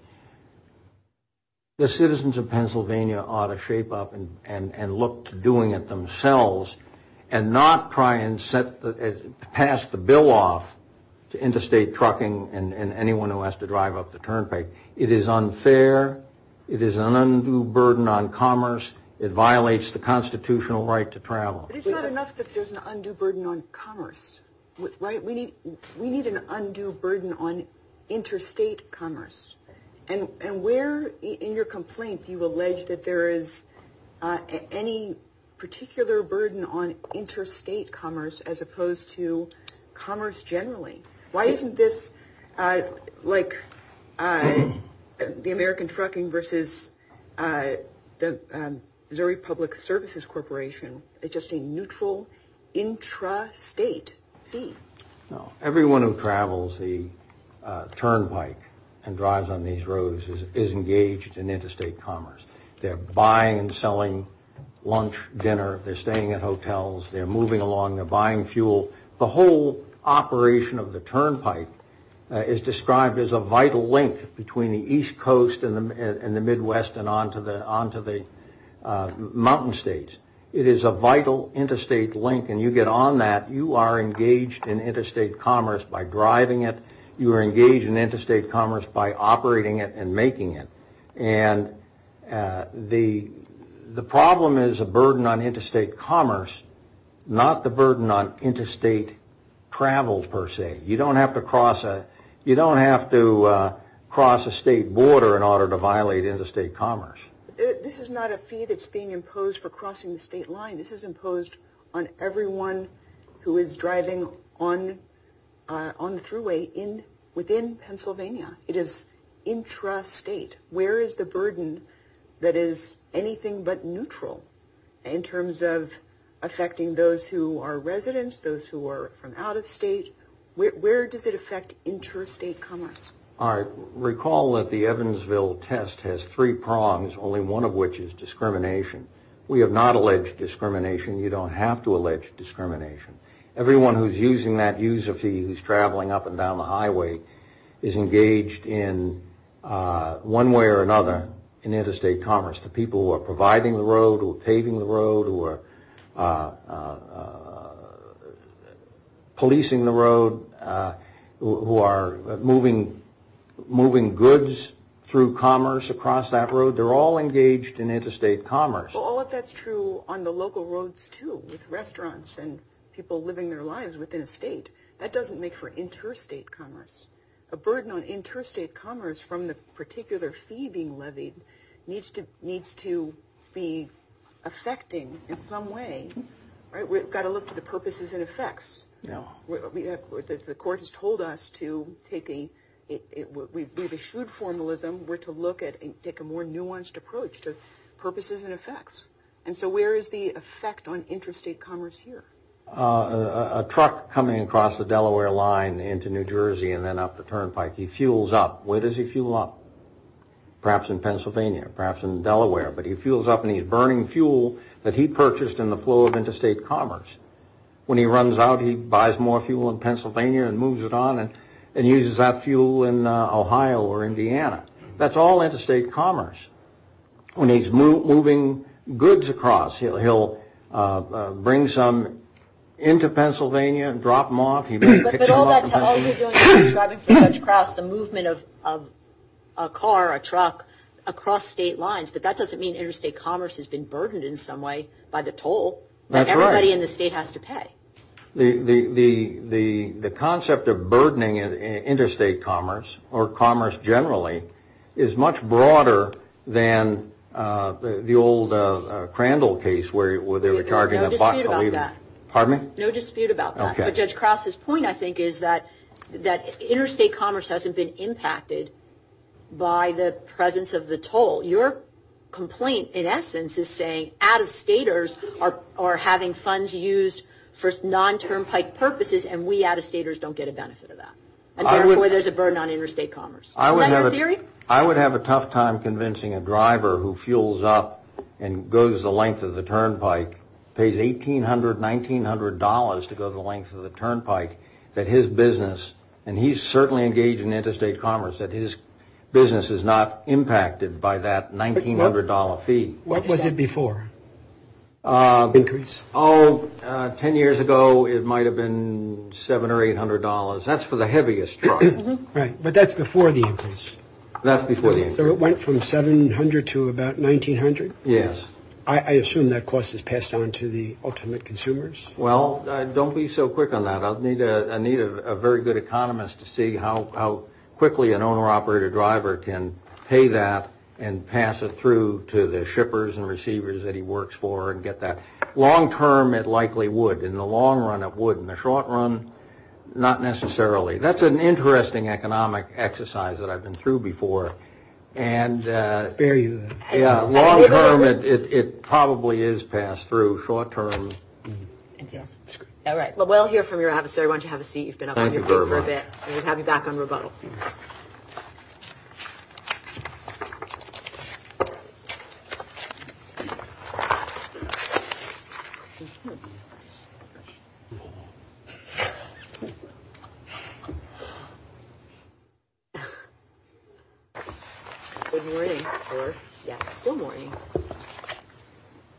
the citizens of Pennsylvania ought to shape up and look to doing it themselves, and not try and pass the bill off to interstate trucking and anyone who has to drive up the Turnpike. It is unfair. It is an undue burden on commerce. It violates the constitutional right to travel. But it's not enough that there's an undue burden on commerce, right? We need an undue burden on interstate commerce. And where in your complaint do you allege that there is any particular burden on interstate commerce, as opposed to commerce generally? Why isn't this like the American Trucking versus the Missouri Public Services Corporation? It's just a neutral intrastate fee. Everyone who travels the Turnpike and drives on these roads is engaged in interstate commerce. They're buying and selling lunch, dinner. They're staying at hotels. They're moving along. They're buying fuel. The whole operation of the Turnpike is described as a vital link between the East Coast and the Midwest and on to the mountain states. It is a vital interstate link, and you get on that, you are engaged in interstate commerce by driving it. You are engaged in interstate commerce by operating it and making it. And the problem is a burden on interstate commerce, not the burden on interstate travel per se. You don't have to cross a state border in order to violate interstate commerce. This is not a fee that's being imposed for crossing the state line. This is imposed on everyone who is driving on the thruway within Pennsylvania. It is intrastate. Where is the burden that is anything but neutral in terms of affecting those who are residents, those who are from out of state? Where does it affect interstate commerce? All right. Recall that the Evansville test has three prongs, only one of which is discrimination. We have not alleged discrimination. You don't have to allege discrimination. Everyone who is using that user fee, who is traveling up and down the highway, is engaged in one way or another in interstate commerce. The people who are providing the road, who are paving the road, who are policing the road, who are moving goods through commerce across that road, they're all engaged in interstate commerce. All of that's true on the local roads, too, with restaurants and people living their lives within a state. That doesn't make for interstate commerce. A burden on interstate commerce from the particular fee being levied needs to be affecting in some way. We've got to look to the purposes and effects. The court has told us to take a more nuanced approach to purposes and effects. And so where is the effect on interstate commerce here? A truck coming across the Delaware line into New Jersey and then up the turnpike, he fuels up. Where does he fuel up? Perhaps in Pennsylvania, perhaps in Delaware. But he fuels up and he's burning fuel that he purchased in the flow of interstate commerce. When he runs out, he buys more fuel in Pennsylvania and moves it on and uses that fuel in Ohio or Indiana. That's all interstate commerce. When he's moving goods across, he'll bring some into Pennsylvania and drop them off. But all they're doing is driving goods across, the movement of a car, a truck, across state lines. But that doesn't mean interstate commerce has been burdened in some way by the toll. That's right. Everybody in the state has to pay. The concept of burdening interstate commerce, or commerce generally, is much broader than the old Crandall case where there was a car getting lost. No dispute about that. Pardon me? No dispute about that. Okay. But Judge Cross's point, I think, is that interstate commerce hasn't been impacted by the presence of the toll. Your complaint, in essence, is saying out-of-staters are having funds used for non-turnpike purposes and we out-of-staters don't get a benefit of that. Therefore, there's a burden on interstate commerce. Is that your theory? I would have a tough time convincing a driver who fuels up and goes the length of the turnpike, pays $1,800, $1,900 to go the length of the turnpike, that his business, and he's certainly engaged in interstate commerce, that his business is not impacted by that $1,900 fee. What was it before the increase? Oh, 10 years ago it might have been $700 or $800. That's for the heaviest truck. Right. But that's before the increase. That's before the increase. So it went from $700 to about $1,900? Yes. I assume that cost is passed on to the ultimate consumers? Well, don't be so quick on that. I need a very good economist to see how quickly an owner-operator-driver can pay that and pass it through to the shippers and receivers that he works for and get that. Long-term, it likely would. In the long run, it would. In the short run, not necessarily. That's an interesting economic exercise that I've been through before. And long-term, it probably is passed through short-term. All right. Well, we'll hear from your adversary. Why don't you have a seat? You've been up here for a bit. Thank you very much. And we'll have you back on rebuttal.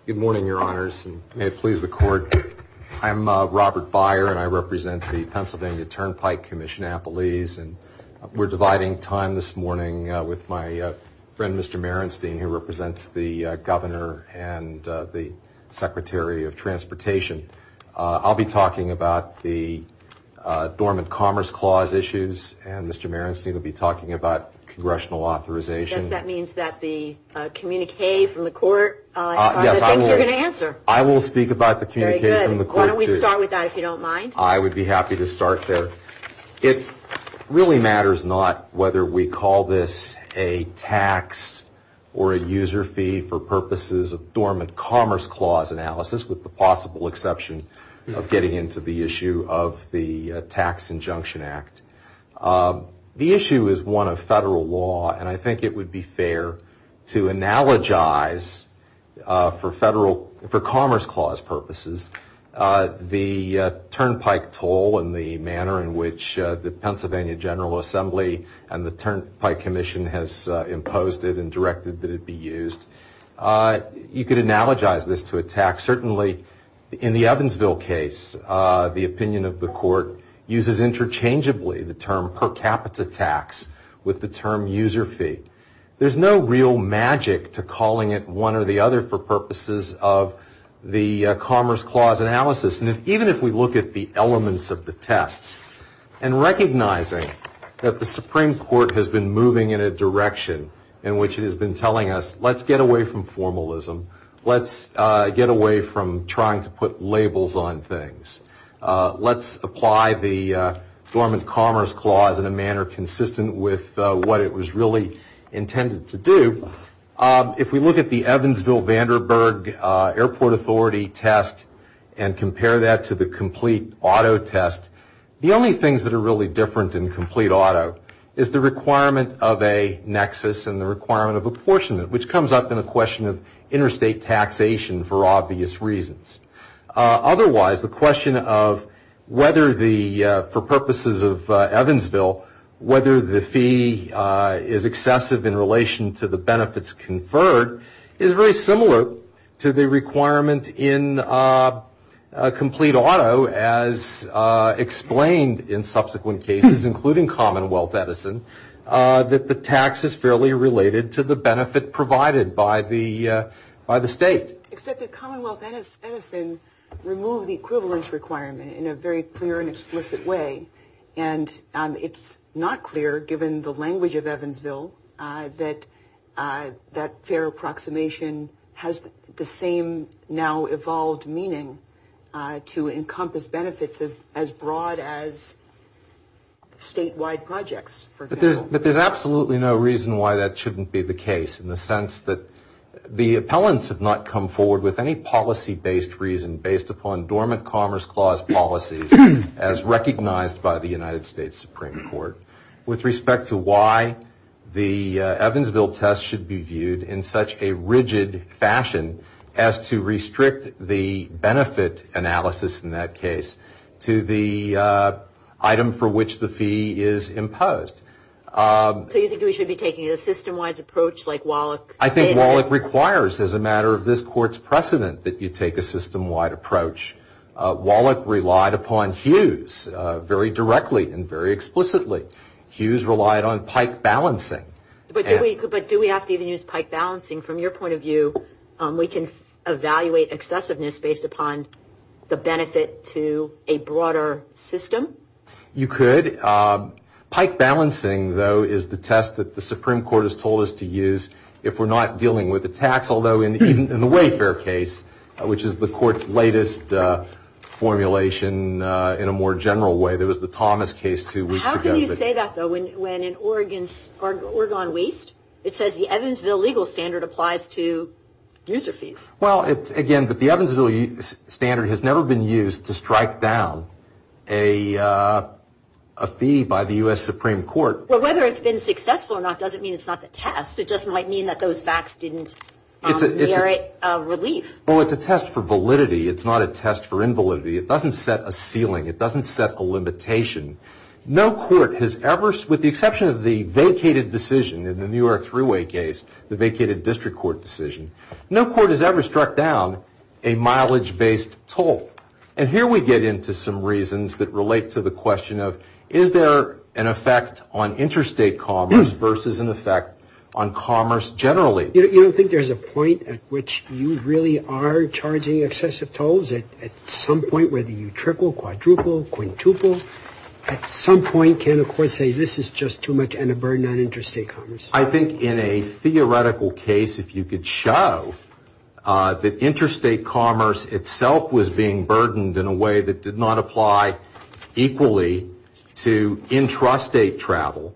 Good morning, Your Honors. May it please the Court. I'm Robert Byer, and I represent the Pennsylvania Turnpike Commission Appellees. And we're dividing time this morning with my friend, Mr. Merenstein, who represents the Governor and the Secretary of Transportation. I'll be talking about the Dormant Commerce Clause issues, and Mr. Merenstein will be talking about congressional authorization. I guess that means that the communique from the Court, I think, you're going to answer. I will speak about the communique from the Court, too. Very good. Why don't we start with that, if you don't mind? I would be happy to start there. It really matters not whether we call this a tax or a user fee for purposes of Dormant Commerce Clause analysis, with the possible exception of getting into the issue of the Tax Injunction Act. The issue is one of federal law, and I think it would be fair to analogize, for Commerce Clause purposes, the turnpike toll and the manner in which the Pennsylvania General Assembly and the Turnpike Commission has imposed it and directed that it be used. You could analogize this to a tax. Certainly, in the Evansville case, the opinion of the Court uses interchangeably the term per capita tax with the term user fee. There's no real magic to calling it one or the other for purposes of the Commerce Clause analysis. Even if we look at the elements of the test, and recognizing that the Supreme Court has been moving in a direction in which it has been telling us, let's get away from formalism. Let's get away from trying to put labels on things. Let's apply the Dormant Commerce Clause in a manner consistent with what it was really intended to do. If we look at the Evansville-Vanderburg Airport Authority test and compare that to the complete auto test, the only things that are really different in complete auto is the requirement of a nexus and the requirement of apportionment, which comes up in a question of interstate taxation for obvious reasons. Otherwise, the question of whether, for purposes of Evansville, whether the fee is excessive in relation to the benefits conferred is very similar to the requirement in complete auto, as explained in subsequent cases, including Commonwealth Edison, that the tax is fairly related to the benefit provided by the state. Except that Commonwealth Edison removed the equivalence requirement in a very clear and explicit way. It's not clear, given the language of Evansville, that that fair approximation has the same now-evolved meaning to encompass benefits as broad as statewide projects. But there's absolutely no reason why that shouldn't be the case, in the sense that the appellants have not come forward with any policy-based reason based upon Dormant Commerce Clause policies as recognized by the United States Supreme Court with respect to why the Evansville test should be viewed in such a rigid fashion as to restrict the benefit analysis in that case to the item for which the fee is imposed. So you think we should be taking a system-wide approach like Wallach? I think Wallach requires, as a matter of this Court's precedent, that you take a system-wide approach. Wallach relied upon Hughes very directly and very explicitly. Hughes relied on pike balancing. But do we have to even use pike balancing? From your point of view, we can evaluate excessiveness based upon the benefit to a broader system? You could. Pike balancing, though, is the test that the Supreme Court has told us to use if we're not dealing with a tax, although in the Wayfair case, which is the Court's latest formulation in a more general way, there was the Thomas case two weeks ago. How can you say that, though, when in Oregon Waste it says the Evansville legal standard applies to user fees? Again, the Evansville standard has never been used to strike down a fee by the U.S. Supreme Court. Whether it's been successful or not doesn't mean it's not the test. It just might mean that those facts didn't merit relief. Well, it's a test for validity. It's not a test for invalidity. It doesn't set a ceiling. It doesn't set a limitation. No court has ever, with the exception of the vacated decision in the New York Freeway case, the vacated district court decision, no court has ever struck down a mileage-based toll. And here we get into some reasons that relate to the question of is there an effect on interstate commerce versus an effect on commerce generally. You don't think there's a point at which you really are charging excessive tolls? At some point, whether you triple, quadruple, quintuple, at some point can a court say this is just too much and a burden on interstate commerce? I think in a theoretical case, if you could show that interstate commerce itself was being burdened in a way that did not apply equally to intrastate travel,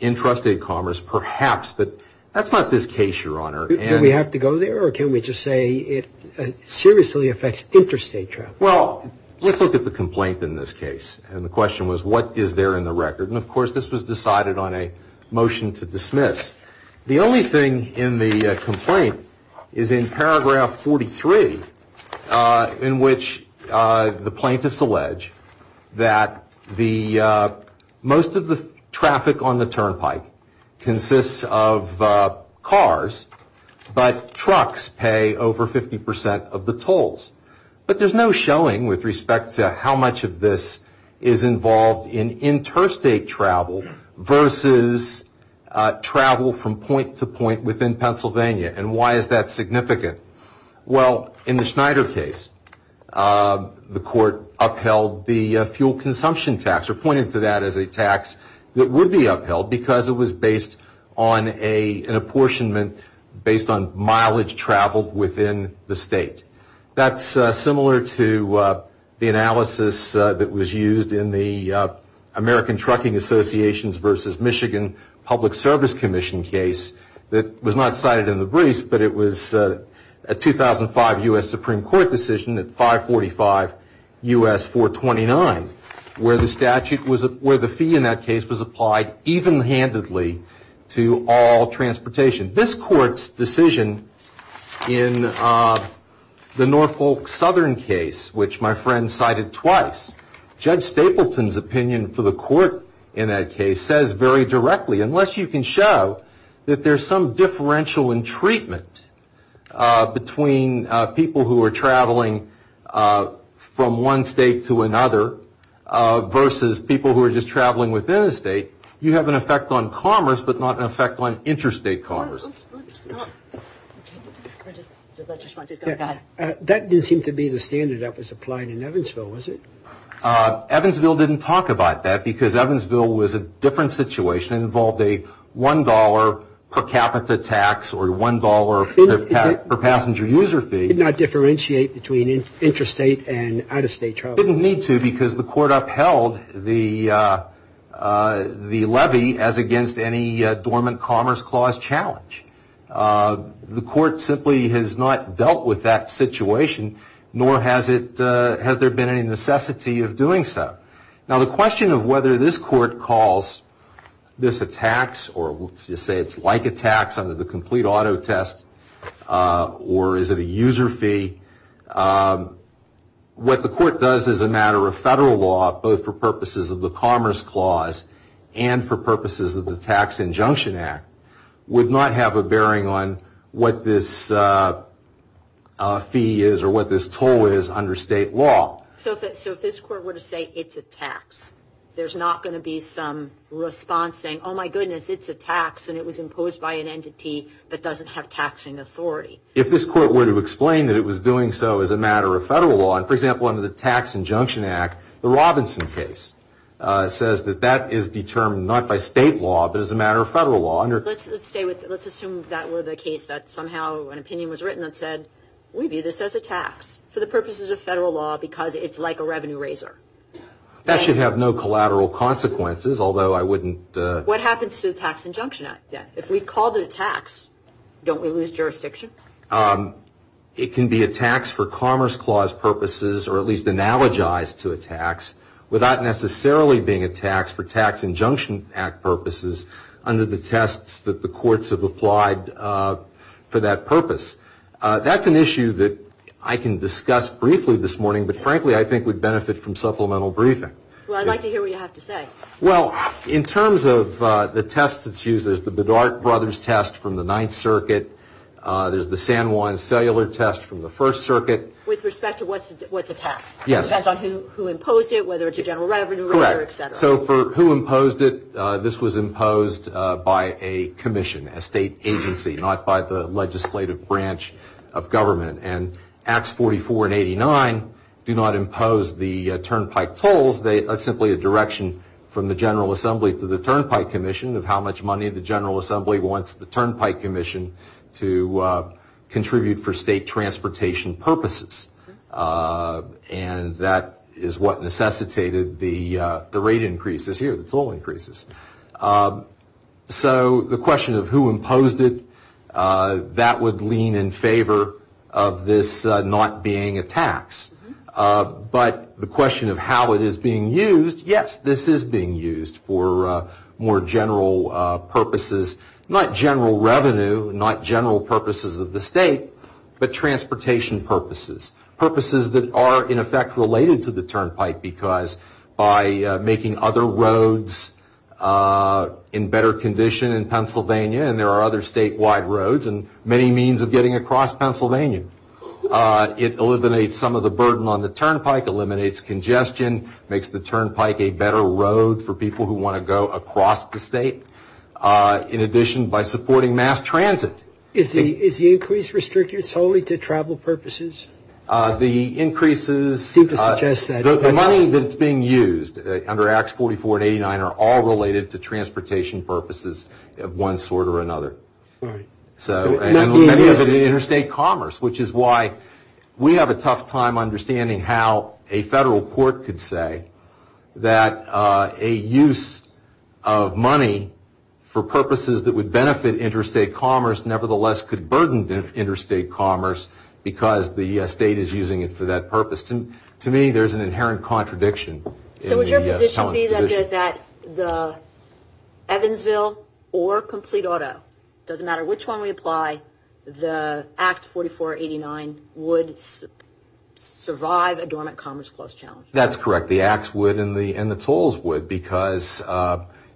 intrastate commerce perhaps, but that's not this case, Your Honor. Do we have to go there or can we just say it seriously affects interstate travel? Well, let's look at the complaint in this case. And the question was what is there in the record? And, of course, this was decided on a motion to dismiss. The only thing in the complaint is in paragraph 43 in which the plaintiffs allege that most of the traffic on the turnpike consists of cars, but trucks pay over 50% of the tolls. But there's no showing with respect to how much of this is involved in interstate travel versus travel from point to point within Pennsylvania. And why is that significant? Well, in the Schneider case, the court upheld the fuel consumption tax or pointed to that as a tax that would be upheld because it was based on an apportionment based on mileage traveled within the state. That's similar to the analysis that was used in the American Trucking Associations versus Michigan Public Service Commission case that was not cited in the brief, but it was a 2005 U.S. Supreme Court decision at 545 U.S. 429 where the fee in that case was applied even-handedly to all transportation. This court's decision in the Norfolk Southern case, which my friend cited twice, Judge Stapleton's opinion for the court in that case says very directly, unless you can show that there's some differential in treatment between people who are traveling from one state to another versus people who are just traveling within a state, you have an effect on commerce but not an effect on interstate cars. That didn't seem to be the standard that was applied in Evansville, was it? Evansville didn't talk about that because Evansville was a different situation and involved a $1 per capita tax or $1 per passenger user fee. It did not differentiate between interstate and out-of-state travel. It didn't need to because the court upheld the levy as against any dormant commerce clause challenge. The court simply has not dealt with that situation nor has there been any necessity of doing so. Now the question of whether this court calls this a tax or let's just say it's like a tax under the complete auto test or is it a user fee, what the court does as a matter of federal law, both for purposes of the commerce clause and for purposes of the Tax Injunction Act, would not have a bearing on what this fee is or what this toll is under state law. So if this court were to say it's a tax, there's not going to be some response saying, oh my goodness, it's a tax and it was imposed by an entity that doesn't have taxing authority. If this court were to explain that it was doing so as a matter of federal law, for example under the Tax Injunction Act, the Robinson case says that that is determined not by state law but as a matter of federal law. Let's assume that was a case that somehow an opinion was written that said, we view this as a tax for the purposes of federal law because it's like a revenue raiser. That should have no collateral consequences, although I wouldn't... What happens to the Tax Injunction Act then? If we call it a tax, don't we lose jurisdiction? It can be a tax for commerce clause purposes or at least analogized to a tax without necessarily being a tax for Tax Injunction Act purposes under the tests that the courts have applied for that purpose. That's an issue that I can discuss briefly this morning, but frankly I think would benefit from supplemental briefing. Well, I'd like to hear what you have to say. Well, in terms of the test that's used, there's the Bedart Brothers test from the Ninth Circuit. There's the San Juan Cellular test from the First Circuit. With respect to what's a tax? Yes. Depends on who imposed it, whether it's a general revenue raiser, etc. Correct. So for who imposed it, this was imposed by a commission, a state agency, not by the legislative branch of government. And Acts 44 and 89 do not impose the turnpike tolls. That's simply a direction from the General Assembly to the Turnpike Commission of how much money the General Assembly wants the Turnpike Commission to contribute for state transportation purposes. And that is what necessitated the rate increases here, the toll increases. So the question of who imposed it, that would lean in favor of this not being a tax. But the question of how it is being used, yes, this is being used for more general purposes, not general revenue, not general purposes of the state, but transportation purposes, purposes that are, in effect, related to the turnpike because by making other roads in better condition in Pennsylvania, and there are other statewide roads and many means of getting across Pennsylvania. It eliminates some of the burden on the turnpike, eliminates congestion, makes the turnpike a better road for people who want to go across the state. In addition, by supporting mass transit. Is the increase restricted solely to travel purposes? The increases, the money that's being used under Acts 44 and 89 are all related to transportation purposes of one sort or another. And the interstate commerce, which is why we have a tough time understanding how a federal court could say that a use of money for purposes that would benefit interstate commerce nevertheless could burden interstate commerce because the state is using it for that purpose. To me, there's an inherent contradiction. So would your position be that the Evansville or complete auto, doesn't matter which one we apply, the Acts 44 or 89 would survive a dormant commerce clause challenge? That's correct. The Acts would and the tolls would because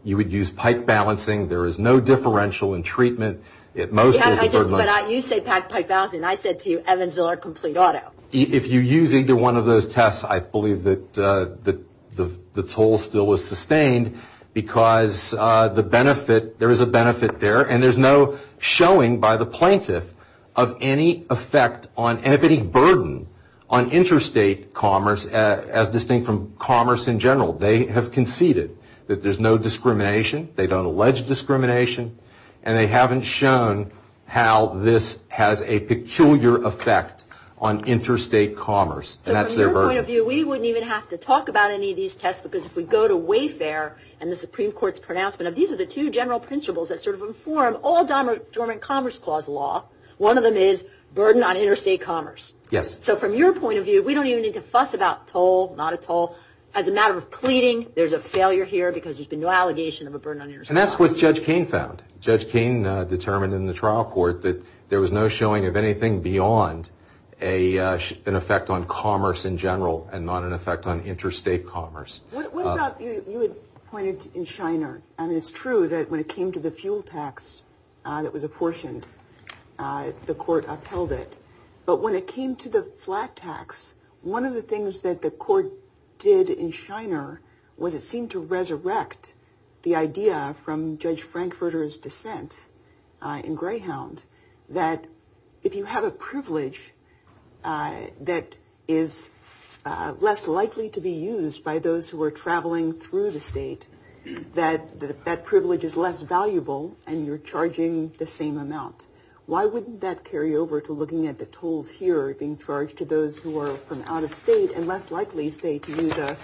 you would use pipe balancing. There is no differential in treatment. But you say pipe balancing. I said to you Evansville or complete auto. If you use either one of those tests, I believe that the toll still is sustained because there is a benefit there and there's no showing by the plaintiff of any effect on any burden on interstate commerce as distinct from commerce in general. They have conceded that there's no discrimination. They don't allege discrimination. And they haven't shown how this has a peculiar effect on interstate commerce. And that's their burden. From your point of view, we wouldn't even have to talk about any of these tests because if we go to Wayfair and the Supreme Court's pronouncement of these are the two general principles that sort of inform all dormant commerce clause law. One of them is burden on interstate commerce. So from your point of view, we don't even need to fuss about toll, not a toll. As a matter of pleading, there's a failure here because there's been no allegation of a burden on interstate commerce. And that's what Judge Kain found. Judge Kain determined in the trial court that there was no showing of anything beyond an effect on commerce in general and not an effect on interstate commerce. What about you had pointed in Shiner? I mean, it's true that when it came to the fuel tax that was apportioned, the court upheld it. But when it came to the flat tax, one of the things that the court did in Shiner was it seemed to resurrect the idea from Judge Frankfurter's dissent in Greyhound that if you have a privilege that is less likely to be used by those who are traveling through the state, that that privilege is less valuable and you're charging the same amount. Why wouldn't that carry over to looking at the tolls here being charged to those who are from out of state and less likely, say, to use a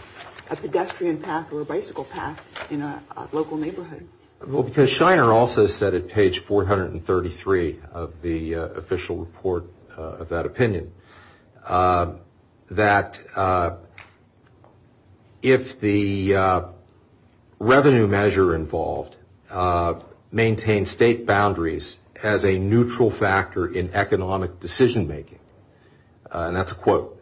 pedestrian path or a bicycle path in a local neighborhood? Well, because Shiner also said at page 433 of the official report of that opinion that if the revenue measure involved maintains state boundaries as a neutral factor in economic decision-making, and that's a quote,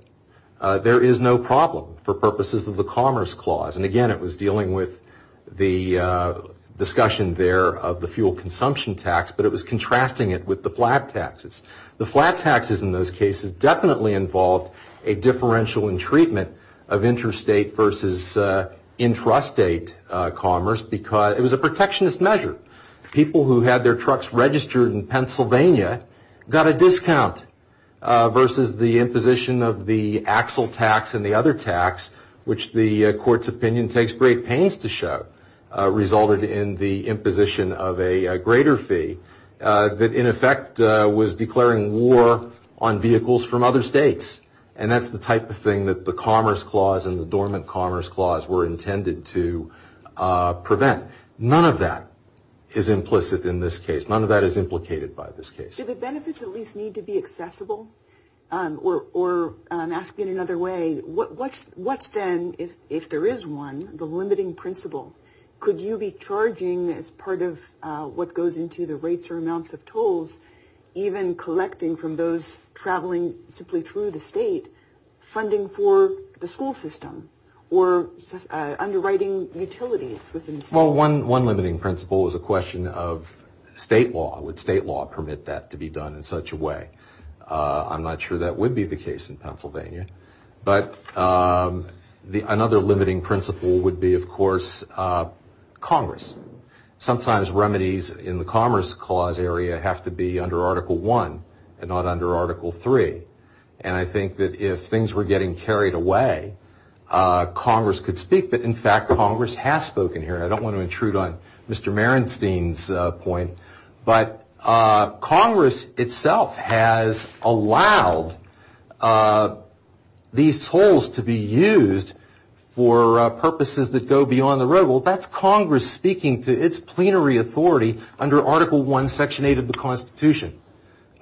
there is no problem for purposes of the commerce clause. And again, it was dealing with the discussion there of the fuel consumption tax, but it was contrasting it with the flat taxes. The flat taxes in those cases definitely involved a differential in treatment of interstate versus intrastate commerce because it was a protectionist measure. People who had their trucks registered in Pennsylvania got a discount versus the imposition of the axle tax and the other tax, which the court's opinion takes great pains to show, resulted in the imposition of a greater fee that, in effect, was declaring war on vehicles from other states. And that's the type of thing that the commerce clause and the dormant commerce clause were intended to prevent. But none of that is implicit in this case. None of that is implicated by this case. Do the benefits at least need to be accessible? Or asked in another way, what then, if there is one, the limiting principle, could you be charging as part of what goes into the rates or amounts of tolls, even collecting from those traveling simply through the state, funding for the school system or underwriting utilities? Well, one limiting principle is a question of state law. Would state law permit that to be done in such a way? I'm not sure that would be the case in Pennsylvania. But another limiting principle would be, of course, Congress. Sometimes remedies in the commerce clause area have to be under Article I and not under Article III. And I think that if things were getting carried away, Congress could speak. But, in fact, Congress has spoken here. I don't want to intrude on Mr. Merenstein's point. But Congress itself has allowed these tolls to be used for purposes that go beyond the road. Well, that's Congress speaking to its plenary authority under Article I, Section 8 of the Constitution.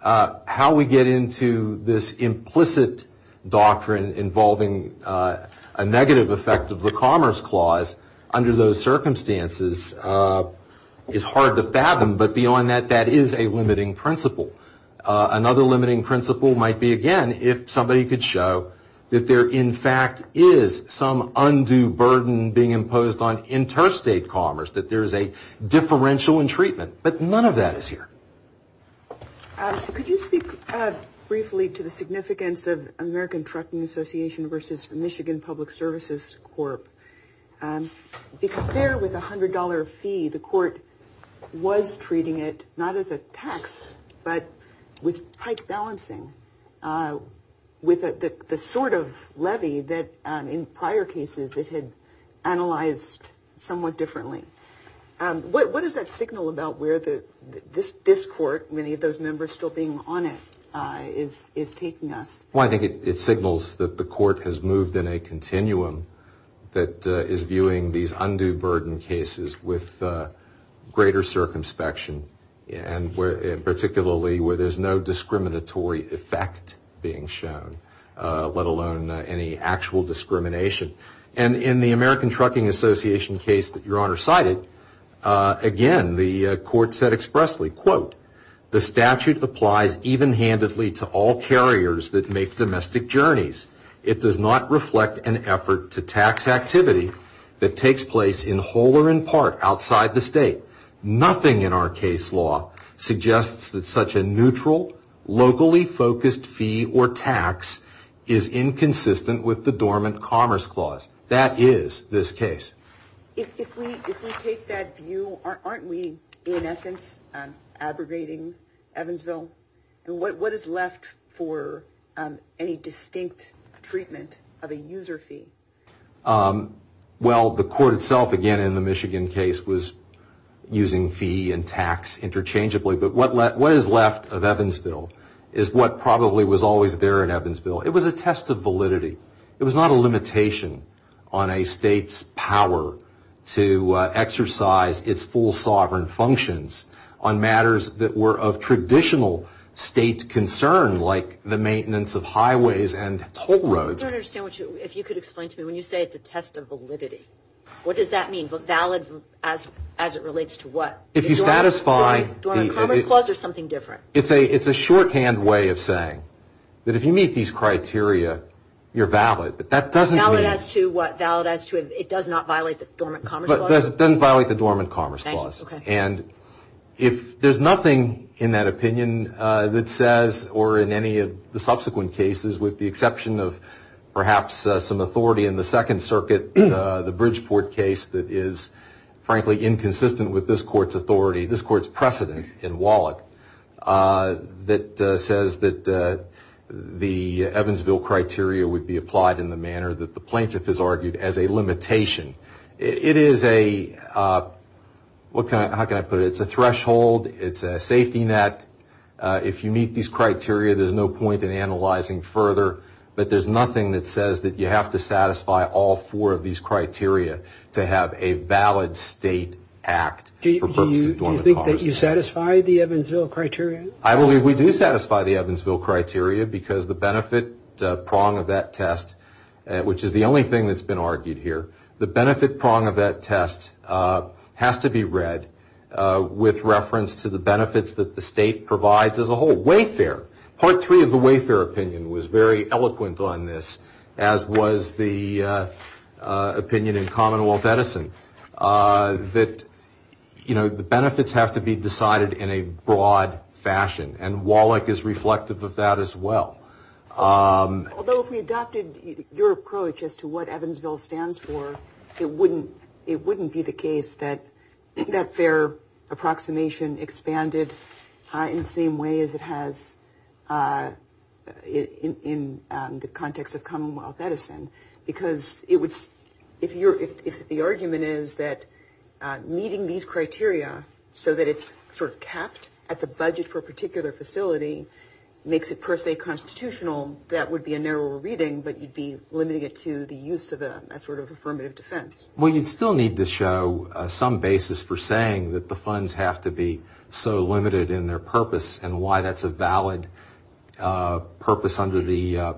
How we get into this implicit doctrine involving a negative effect of the commerce clause under those circumstances is hard to fathom. But beyond that, that is a limiting principle. Another limiting principle might be, again, if somebody could show that there, in fact, is some undue burden being imposed on interstate commerce, that there's a differential in treatment. But none of that is here. Could you speak briefly to the significance of American Trucking Association versus Michigan Public Services Corp.? Compared with the $100 fee, the court was treating it not as a tax but with tight balancing, with the sort of levy that, in prior cases, it had analyzed somewhat differently. What does that signal about where this court, many of those members still being honest, is taking us? Well, I think it signals that the court has moved in a continuum that is viewing these undue burden cases with greater circumspection, particularly where there's no discriminatory effect being shown, let alone any actual discrimination. And in the American Trucking Association case that Your Honor cited, again, the court said expressly, quote, the statute applies even-handedly to all carriers that make domestic journeys. It does not reflect an effort to tax activity that takes place in whole or in part outside the state. Nothing in our case law suggests that such a neutral, locally focused fee or tax is inconsistent with the Dormant Commerce Clause. That is this case. If we take that view, aren't we, in essence, abrogating Evansville? What is left for any distinct treatment of a user fee? Well, the court itself, again, in the Michigan case, was using fee and tax interchangeably. But what is left of Evansville is what probably was always there in Evansville. It was a test of validity. It was not a limitation on a state's power to exercise its full sovereign functions on matters that were of traditional state concern, like the maintenance of highways and toll roads. I don't understand if you could explain to me, when you say it's a test of validity, what does that mean? Valid as it relates to what? Dormant Commerce Clause or something different? It's a shorthand way of saying that if you meet these criteria, you're valid. Valid as to what? Valid as to if it does not violate the Dormant Commerce Clause? It doesn't violate the Dormant Commerce Clause. And if there's nothing in that opinion that says, or in any of the subsequent cases, with the exception of perhaps some authority in the Second Circuit, the Bridgeport case that is, frankly, inconsistent with this court's authority, this court's precedent in Wallach, that says that the Evansville criteria would be applied in the manner that the plaintiff has argued as a limitation. It is a, how can I put it, it's a threshold, it's a safety net. If you meet these criteria, there's no point in analyzing further. But there's nothing that says that you have to satisfy all four of these criteria to have a valid state act. Do you think that you satisfy the Evansville criteria? I believe we do satisfy the Evansville criteria because the benefit prong of that test, which is the only thing that's been argued here, the benefit prong of that test has to be read with reference to the benefits that the state provides as a whole. Wayfair, Part 3 of the Wayfair opinion was very eloquent on this, as was the opinion in Commonwealth Edison, that, you know, the benefits have to be decided in a broad fashion, and Wallach is reflective of that as well. Although if we adopted your approach as to what Evansville stands for, it wouldn't be the case that their approximation expanded in the same way as it has in the context of Commonwealth Edison because it would, if the argument is that meeting these criteria so that it's sort of capped at the budget for a particular facility makes it per se constitutional, that would be a narrower reading, but you'd be limiting it to the use of a sort of affirmative defense. Well, you'd still need to show some basis for saying that the funds have to be so limited in their purpose and why that's a valid purpose under the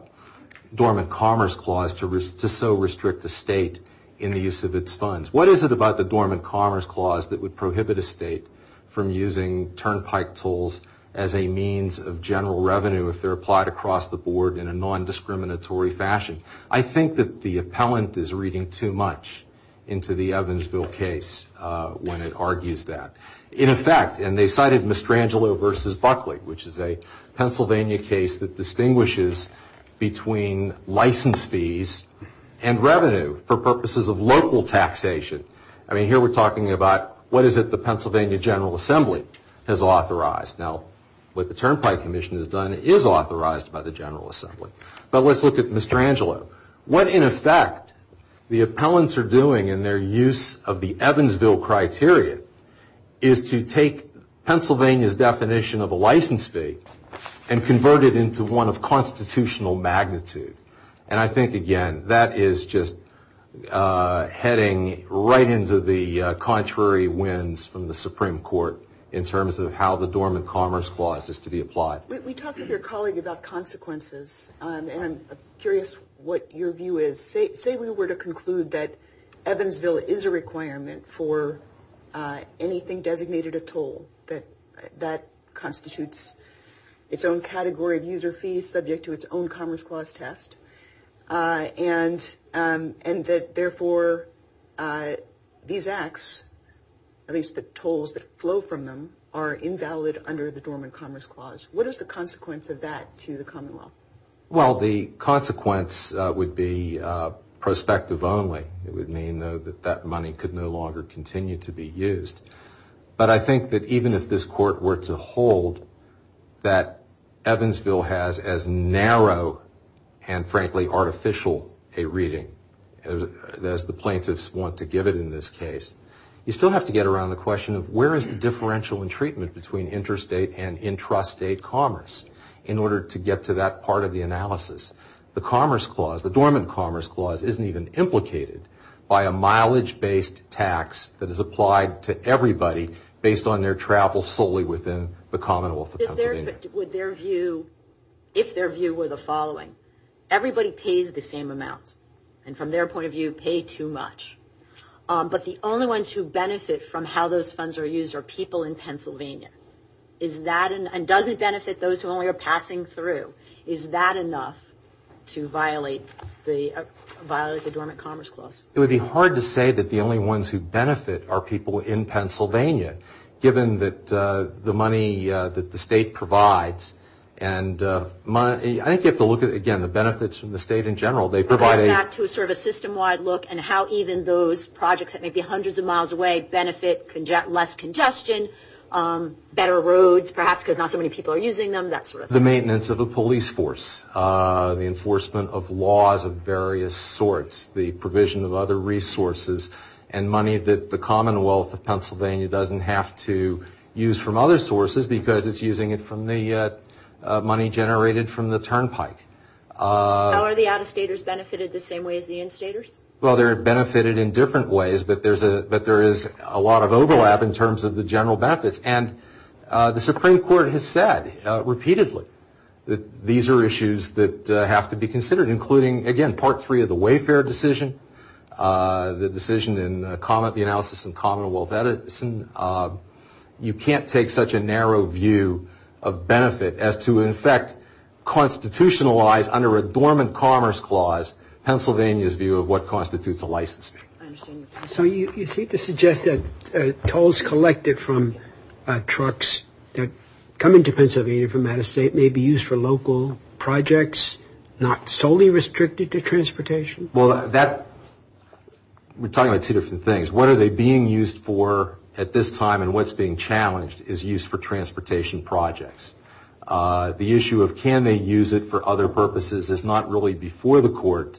Dormant Commerce Clause to so restrict the state in the use of its funds. What is it about the Dormant Commerce Clause that would prohibit a state from using turnpike tools as a means of general revenue if they're applied across the board in a non-discriminatory fashion? I think that the appellant is reading too much into the Evansville case when it argues that. In effect, and they cited Mestrangelo v. Buckley, which is a Pennsylvania case that distinguishes between license fees and revenue for purposes of local taxation. I mean, here we're talking about what is it the Pennsylvania General Assembly has authorized. Now, what the Turnpike Commission has done is authorized by the General Assembly. But let's look at Mestrangelo. What, in effect, the appellants are doing in their use of the Evansville criteria is to take Pennsylvania's definition of a license fee and convert it into one of constitutional magnitude. And I think, again, that is just heading right into the contrary winds from the Supreme Court in terms of how the Dormant Commerce Clause is to be applied. We talked with your colleague about consequences, and I'm curious what your view is. Say we were to conclude that Evansville is a requirement for anything designated a toll, that constitutes its own category of user fees subject to its own Commerce Clause test, and that, therefore, these acts, at least the tolls that flow from them, are invalid under the Dormant Commerce Clause. What is the consequence of that to the Commonwealth? Well, the consequence would be prospective only. It would mean that that money could no longer continue to be used. But I think that even if this Court were to hold that Evansville has as narrow and, frankly, artificial a reading as the plaintiffs want to give it in this case, you still have to get around the question of where is the differential in treatment between interstate and intrastate commerce in order to get to that part of the analysis. The Commerce Clause, the Dormant Commerce Clause, isn't even implicated by a mileage-based tax that is applied to everybody based on their travel solely within the Commonwealth of Pennsylvania. If their view were the following, everybody pays the same amount, and from their point of view, pay too much, but the only ones who benefit from how those funds are used are people in Pennsylvania, and doesn't benefit those who only are passing through, is that enough to violate the Dormant Commerce Clause? It would be hard to say that the only ones who benefit are people in Pennsylvania, given the money that the state provides. I think you have to look at, again, the benefits from the state in general. They provide a system-wide look at how even those projects that may be hundreds of miles away benefit, less congestion, better roads, perhaps, because not so many people are using them, that sort of thing. The maintenance of a police force, the enforcement of laws of various sorts, the provision of other resources, and money that the Commonwealth of Pennsylvania doesn't have to use from other sources because it's using it from the money generated from the turnpike. How are the out-of-staters benefited the same way as the in-staters? Well, they're benefited in different ways, but there is a lot of overlap in terms of the general benefits, and the Supreme Court has said repeatedly that these are issues that have to be considered, including, again, Part 3 of the Wayfair decision, the decision in the analysis in Commonwealth Edison. You can't take such a narrow view of benefit as to, in fact, constitutionalize under a dormant commerce clause Pennsylvania's view of what constitutes a license. So you seem to suggest that tolls collected from trucks that come into Pennsylvania from out of state may be used for local projects, not solely restricted to transportation? Well, we're talking about two different things. What are they being used for at this time and what's being challenged is used for transportation projects. The issue of can they use it for other purposes is not really before the court,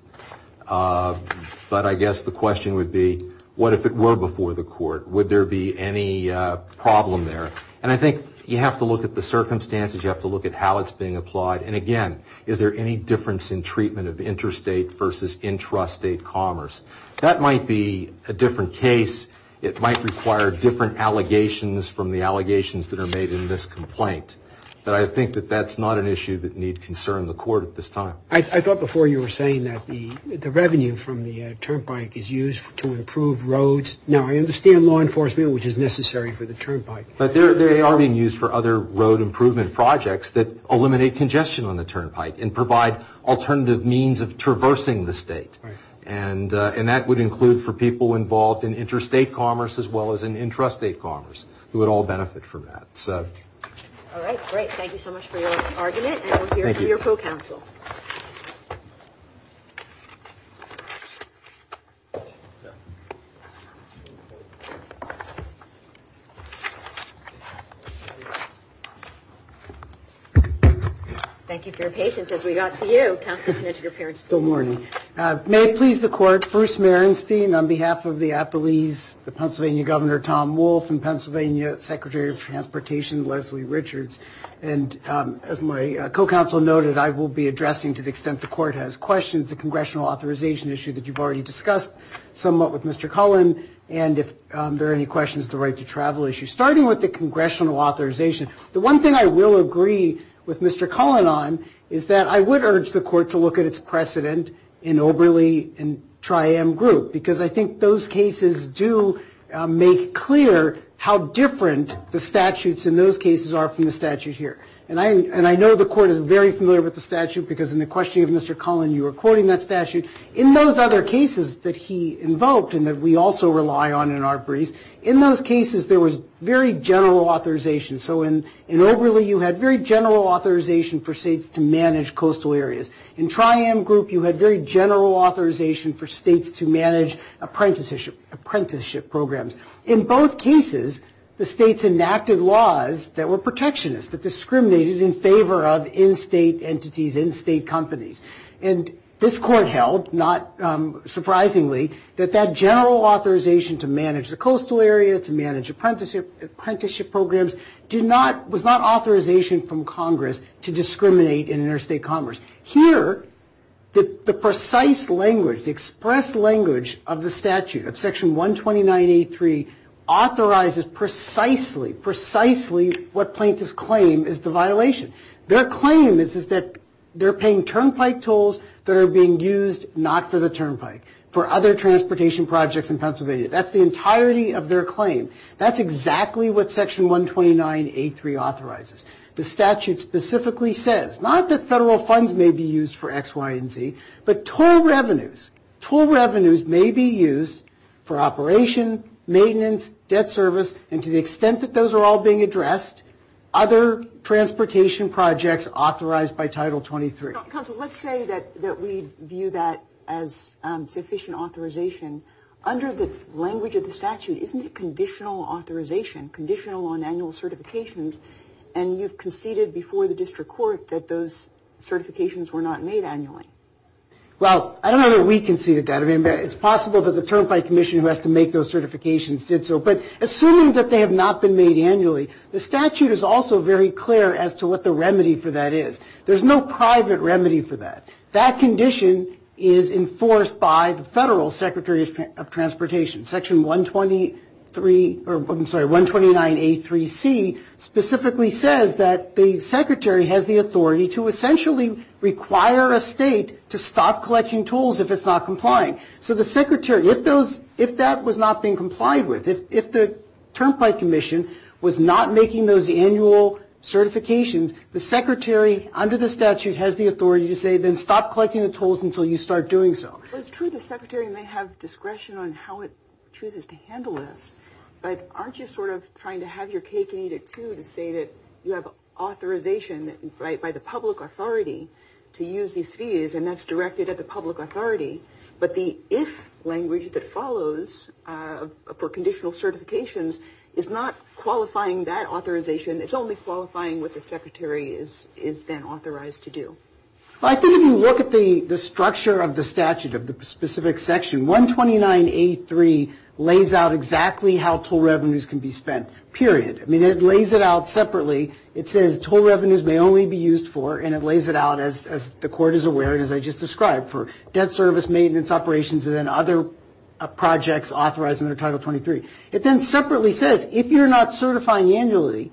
but I guess the question would be what if it were before the court? Would there be any problem there? And I think you have to look at the circumstances. You have to look at how it's being applied. And, again, is there any difference in treatment of interstate versus intrastate commerce? That might be a different case. It might require different allegations from the allegations that are made in this complaint. But I think that that's not an issue that needs concern in the court at this time. I thought before you were saying that the revenue from the turnpike is used to improve roads. Now, I understand law enforcement, which is necessary for the turnpike. But they are being used for other road improvement projects that eliminate congestion on the turnpike and provide alternative means of traversing the state. And that would include for people involved in interstate commerce as well as in intrastate commerce, who would all benefit from that. All right. Great. Thank you so much for your argument. Thank you. Thank you to your co-counsel. Thank you for your patience as we got to you. Good morning. May it please the court, first Mayor Instein, on behalf of the apologies, the Pennsylvania Governor Tom Wolf and Pennsylvania Secretary of Transportation Leslie Richards. And as my co-counsel noted, I will be addressing, to the extent the court has questions, the congressional authorization issue that you've already discussed somewhat with Mr. Cullen and if there are any questions of the right to travel issue. Starting with the congressional authorization, the one thing I will agree with Mr. Cullen on is that I would urge the court to look at its precedent in Oberly and Tri-M Group because I think those cases do make clear how different the statutes in those cases are from the statute here. And I know the court is very familiar with the statute because in the question of Mr. Cullen, you were quoting that statute. In those other cases that he invoked and that we also rely on in our brief, in those cases there was very general authorization. So in Oberly, you had very general authorization for states to manage coastal areas. In Tri-M Group, you had very general authorization for states to manage apprenticeship programs. In both cases, the states enacted laws that were protectionist, that discriminated in favor of in-state entities, in-state companies. And this court held, not surprisingly, that that general authorization to manage the coastal area, to manage apprenticeship programs, was not authorization from Congress to discriminate in interstate commerce. Here, the precise language, the express language of the statute, of Section 129A3, authorizes precisely, precisely what plaintiffs claim is the violation. Their claim is that they're paying turnpike tolls that are being used not for the turnpike, for other transportation projects in Pennsylvania. That's the entirety of their claim. That's exactly what Section 129A3 authorizes. The statute specifically says, not that federal funds may be used for X, Y, and Z, but toll revenues. Toll revenues may be used for operation, maintenance, debt service, and to the extent that those are all being addressed, other transportation projects authorized by Title 23. Counsel, let's say that we view that as sufficient authorization. Under the language of the statute, isn't it conditional authorization, conditional on annual certifications, and you've conceded before the district court that those certifications were not made annually? Well, I don't know that we conceded that. I mean, it's possible that the Turnpike Commission who has to make those certifications did so. But assuming that they have not been made annually, the statute is also very clear as to what the remedy for that is. There's no private remedy for that. That condition is enforced by the federal Secretaries of Transportation. Section 129A3C specifically says that the secretary has the authority to essentially require a state to stop collecting tolls if it's not complying. So the secretary, if that was not being complied with, if the Turnpike Commission was not making those annual certifications, the secretary under the statute has the authority to say, then stop collecting the tolls until you start doing so. Well, it's true the secretary may have discretion on how it chooses to handle this. But aren't you sort of trying to have your cake and eat it, too, to say that you have authorization by the public authority to use these fees, and that's directed at the public authority? But the if language that follows for conditional certifications is not qualifying that authorization. It's only qualifying what the secretary is then authorized to do. I think if you look at the structure of the statute of the specific section, 129A3 lays out exactly how toll revenues can be spent, period. I mean, it lays it out separately. It says toll revenues may only be used for, and it lays it out as the court is aware, as I just described, for debt service maintenance operations and then other projects authorized under Title 23. It then separately says if you're not certifying annually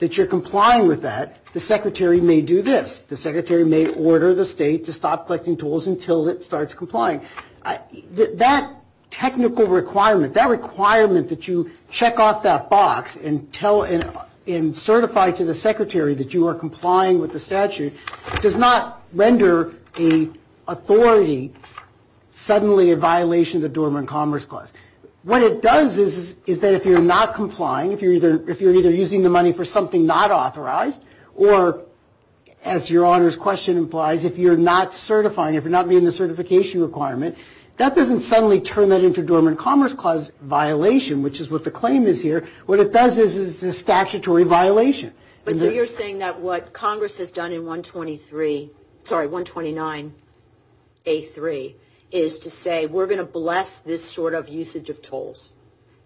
that you're complying with that, the secretary may do this. The secretary may order the state to stop collecting tolls until it starts complying. That technical requirement, that requirement that you check off that box and tell and certify to the secretary that you are complying with the statute, does not render an authority suddenly a violation of the Dormant Commerce Clause. What it does is that if you're not complying, if you're either using the money for something not authorized, or as your honor's question implies, if you're not certifying, if you're not meeting the certification requirement, that doesn't suddenly turn that into Dormant Commerce Clause violation, which is what the claim is here. What it does is it's a statutory violation. But you're saying that what Congress has done in 123, sorry, 129A3, is to say we're going to bless this sort of usage of tolls.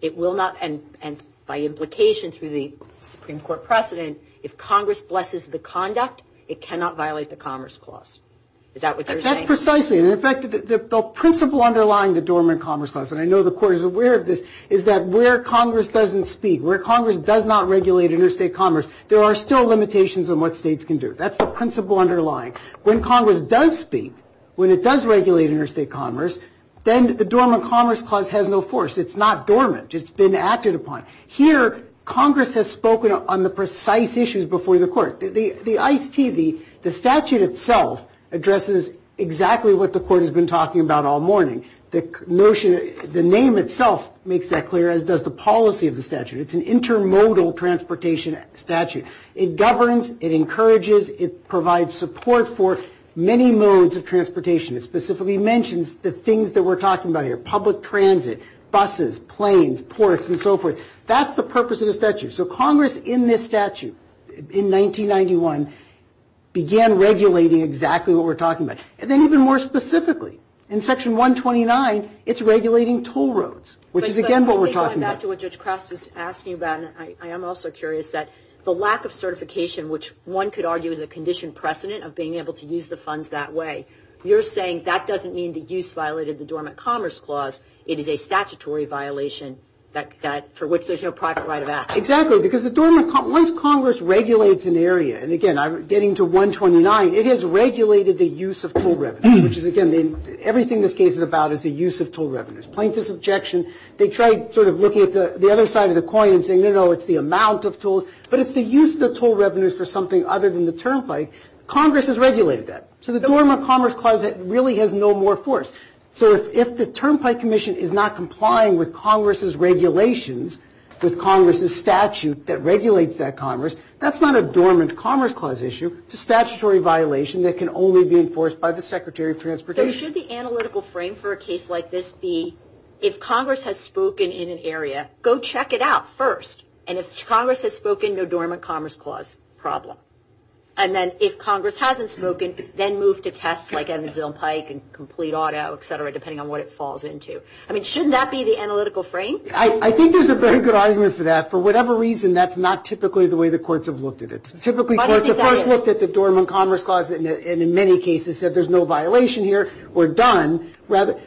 It will not, and by implication through the Supreme Court precedent, if Congress blesses the conduct, it cannot violate the Commerce Clause. Is that what you're saying? That's precisely. In fact, the principle underlying the Dormant Commerce Clause, and I know the court is aware of this, is that where Congress doesn't speak, where Congress does not regulate interstate commerce, there are still limitations on what states can do. That's the principle underlying. When Congress does speak, when it does regulate interstate commerce, then the Dormant Commerce Clause has no force. It's not dormant. It's been acted upon. Here, Congress has spoken on the precise issues before the court. The ICE TV, the statute itself, addresses exactly what the court has been talking about all morning. The notion, the name itself makes that clear, as does the policy of the statute. It's an intermodal transportation statute. It governs, it encourages, it provides support for many modes of transportation. It specifically mentions the things that we're talking about here, public transit, buses, planes, ports, and so forth. That's the purpose of the statute. So Congress, in this statute, in 1991, began regulating exactly what we're talking about. And then even more specifically, in Section 129, it's regulating toll roads, which is again what we're talking about. Let me go back to what Judge Kraft is asking about, and I am also curious that the lack of certification, which one could argue is a conditioned precedent of being able to use the funds that way, you're saying that doesn't mean the use violated the Dormant Commerce Clause. It is a statutory violation for which there's no private right of access. Exactly, because the Dormant Commerce, once Congress regulates an area, and again, I'm getting to 129, it has regulated the use of toll revenues, which is again, everything this case is about is the use of toll revenues. Plaintiff's objection, they tried sort of looking at the other side of the coin and saying, you know, it's the amount of tolls, but it's the use of the toll revenues for something other than the turnpike. Congress has regulated that. So the Dormant Commerce Clause really has no more force. So if the Turnpike Commission is not complying with Congress's regulations, with Congress's statute that regulates that commerce, that's not a Dormant Commerce Clause issue, it's a statutory violation that can only be enforced by the Secretary of Transportation. So should the analytical frame for a case like this be, if Congress has spoken in an area, go check it out first, and if Congress has spoken, no Dormant Commerce Clause problem. And then if Congress hasn't spoken, then move to tests like Evansville and Pike and complete auto, et cetera, depending on what it falls into. I mean, shouldn't that be the analytical frame? I think there's a very good argument for that. For whatever reason, that's not typically the way the courts have looked at it. Typically courts have first looked at the Dormant Commerce Clause and in many cases said there's no violation here, or done, rather.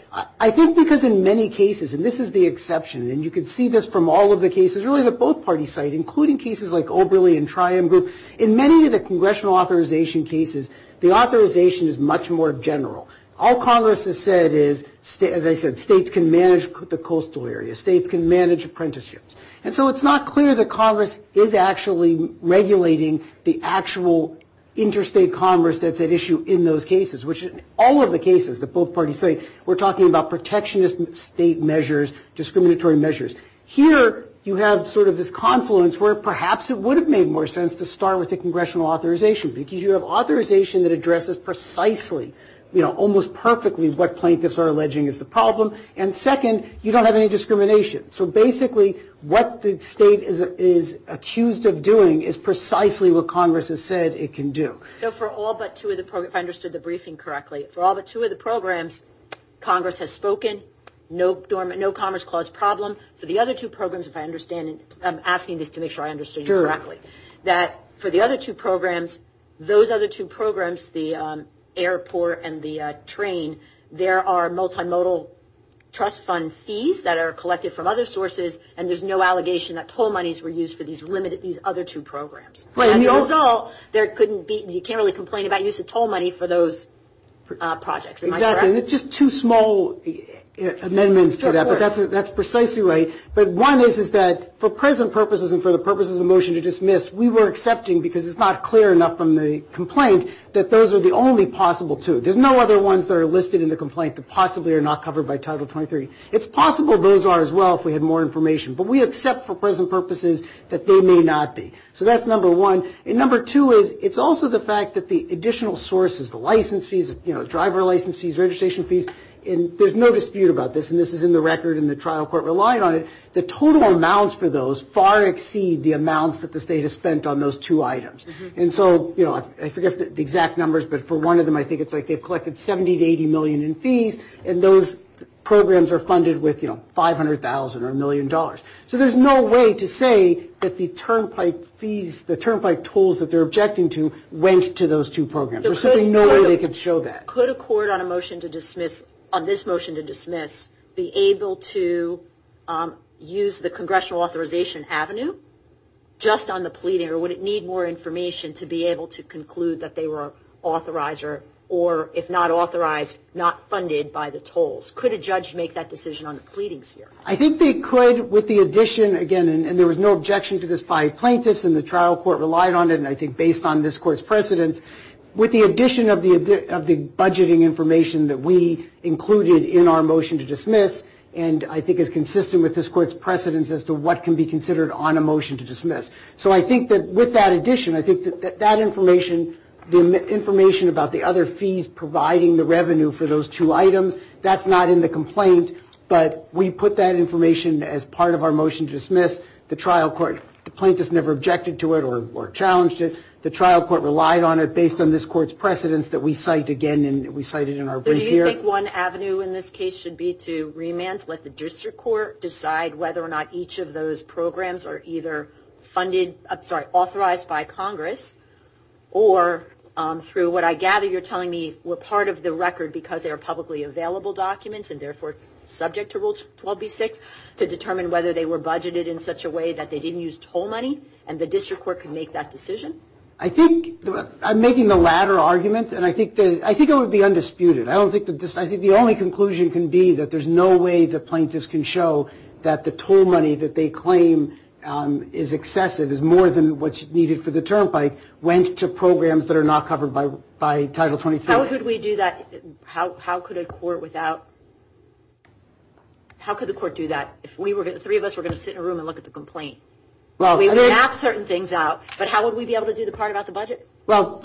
I think because in many cases, and this is the exception, and you can see this from all of the cases, really the both-party side, including cases like Oberle and Triumph, in many of the congressional authorization cases, the authorization is much more general. All Congress has said is, as I said, states can manage the coastal areas. States can manage apprenticeships. And so it's not clear that Congress is actually regulating the actual interstate commerce that's at issue in those cases, which in all of the cases, the both parties say, we're talking about protectionist state measures, discriminatory measures. Here, you have sort of this confluence where perhaps it would have made more sense to start with the congressional authorization because you have authorization that addresses precisely, almost perfectly, what plaintiffs are alleging is the problem. And second, you don't have any discrimination. So basically, what the state is accused of doing is precisely what Congress has said it can do. So for all but two of the programs, if I understood the briefing correctly, for all but two of the programs, Congress has spoken, no Commerce Clause problem. For the other two programs, if I understand, I'm asking to make sure I understood you correctly, that for the other two programs, those other two programs, the airport and the train, there are multimodal trust fund fees that are collected from other sources and there's no allegation that toll monies were used for these other two programs. And those all, you can't really complain about the use of toll money for those projects. Am I correct? Exactly. And it's just two small amendments to that. But that's precisely right. But one is that for present purposes and for the purposes of the motion to dismiss, we were accepting, because it's not clear enough from the complaint, that those are the only possible two. There's no other ones that are listed in the complaint that possibly are not covered by Title 23. It's possible those are as well if we had more information. But we accept for present purposes that they may not be. So that's number one. And number two is, it's also the fact that the additional sources, the license fees, you know, driver license fees, registration fees, and there's no dispute about this and this is in the record and the trial court relied on it, the total amounts for those far exceed the amounts that the state has spent on those two items. And so, you know, I forget the exact numbers, but for one of them, I think it's like they've collected 70 to 80 million in fees and those programs are funded with, you know, 500,000 or a million dollars. So there's no way to say that the turnpike fees, the turnpike tools that they're objecting to went to those two programs. There's simply no way they could show that. Could a court on a motion to dismiss, on this motion to dismiss, be able to use the congressional authorization avenue just on the pleading or would it need more information to be able to conclude that they were authorizer or if not authorized, not funded by the tolls? Could a judge make that decision on the pleading series? I think they could with the addition, again, and there was no objection to this by plaintiffs and the trial court relied on it and I think based on this court's precedence, with the addition of the budgeting information that we included in our motion to dismiss and I think is consistent with this court's precedence as to what can be considered on a motion to dismiss. So I think that with that addition, I think that that information, the information about the other fees providing the revenue for those two items, that's not in the complaint but we put that information as part of our motion to dismiss. The trial court, the plaintiffs never objected to it or challenged it. The trial court relied on it based on this court's precedence that we cite again and we cite it in our brief here. So do you think one avenue in this case should be to remand, let the district court decide whether or not each of those programs are either funded, I'm sorry, authorized by Congress or through what I gather you're telling me were part of the record because they're publicly available documents and therefore subject to Rule 12b-6 to determine whether they were budgeted in such a way that they didn't use toll money and the district court can make that decision? I think, I'm making the latter argument and I think it would be undisputed. I think the only conclusion can be that there's no way the plaintiffs can show that the toll money that they claim is excessive, is more than what's needed for the turnpike, went to programs that are not covered by Title 24. How could we do that? How could a court without, how could the court do that? If three of us were going to sit in a room and look at the complaint? We would have certain things out, but how would we be able to do the part about the budget? Well,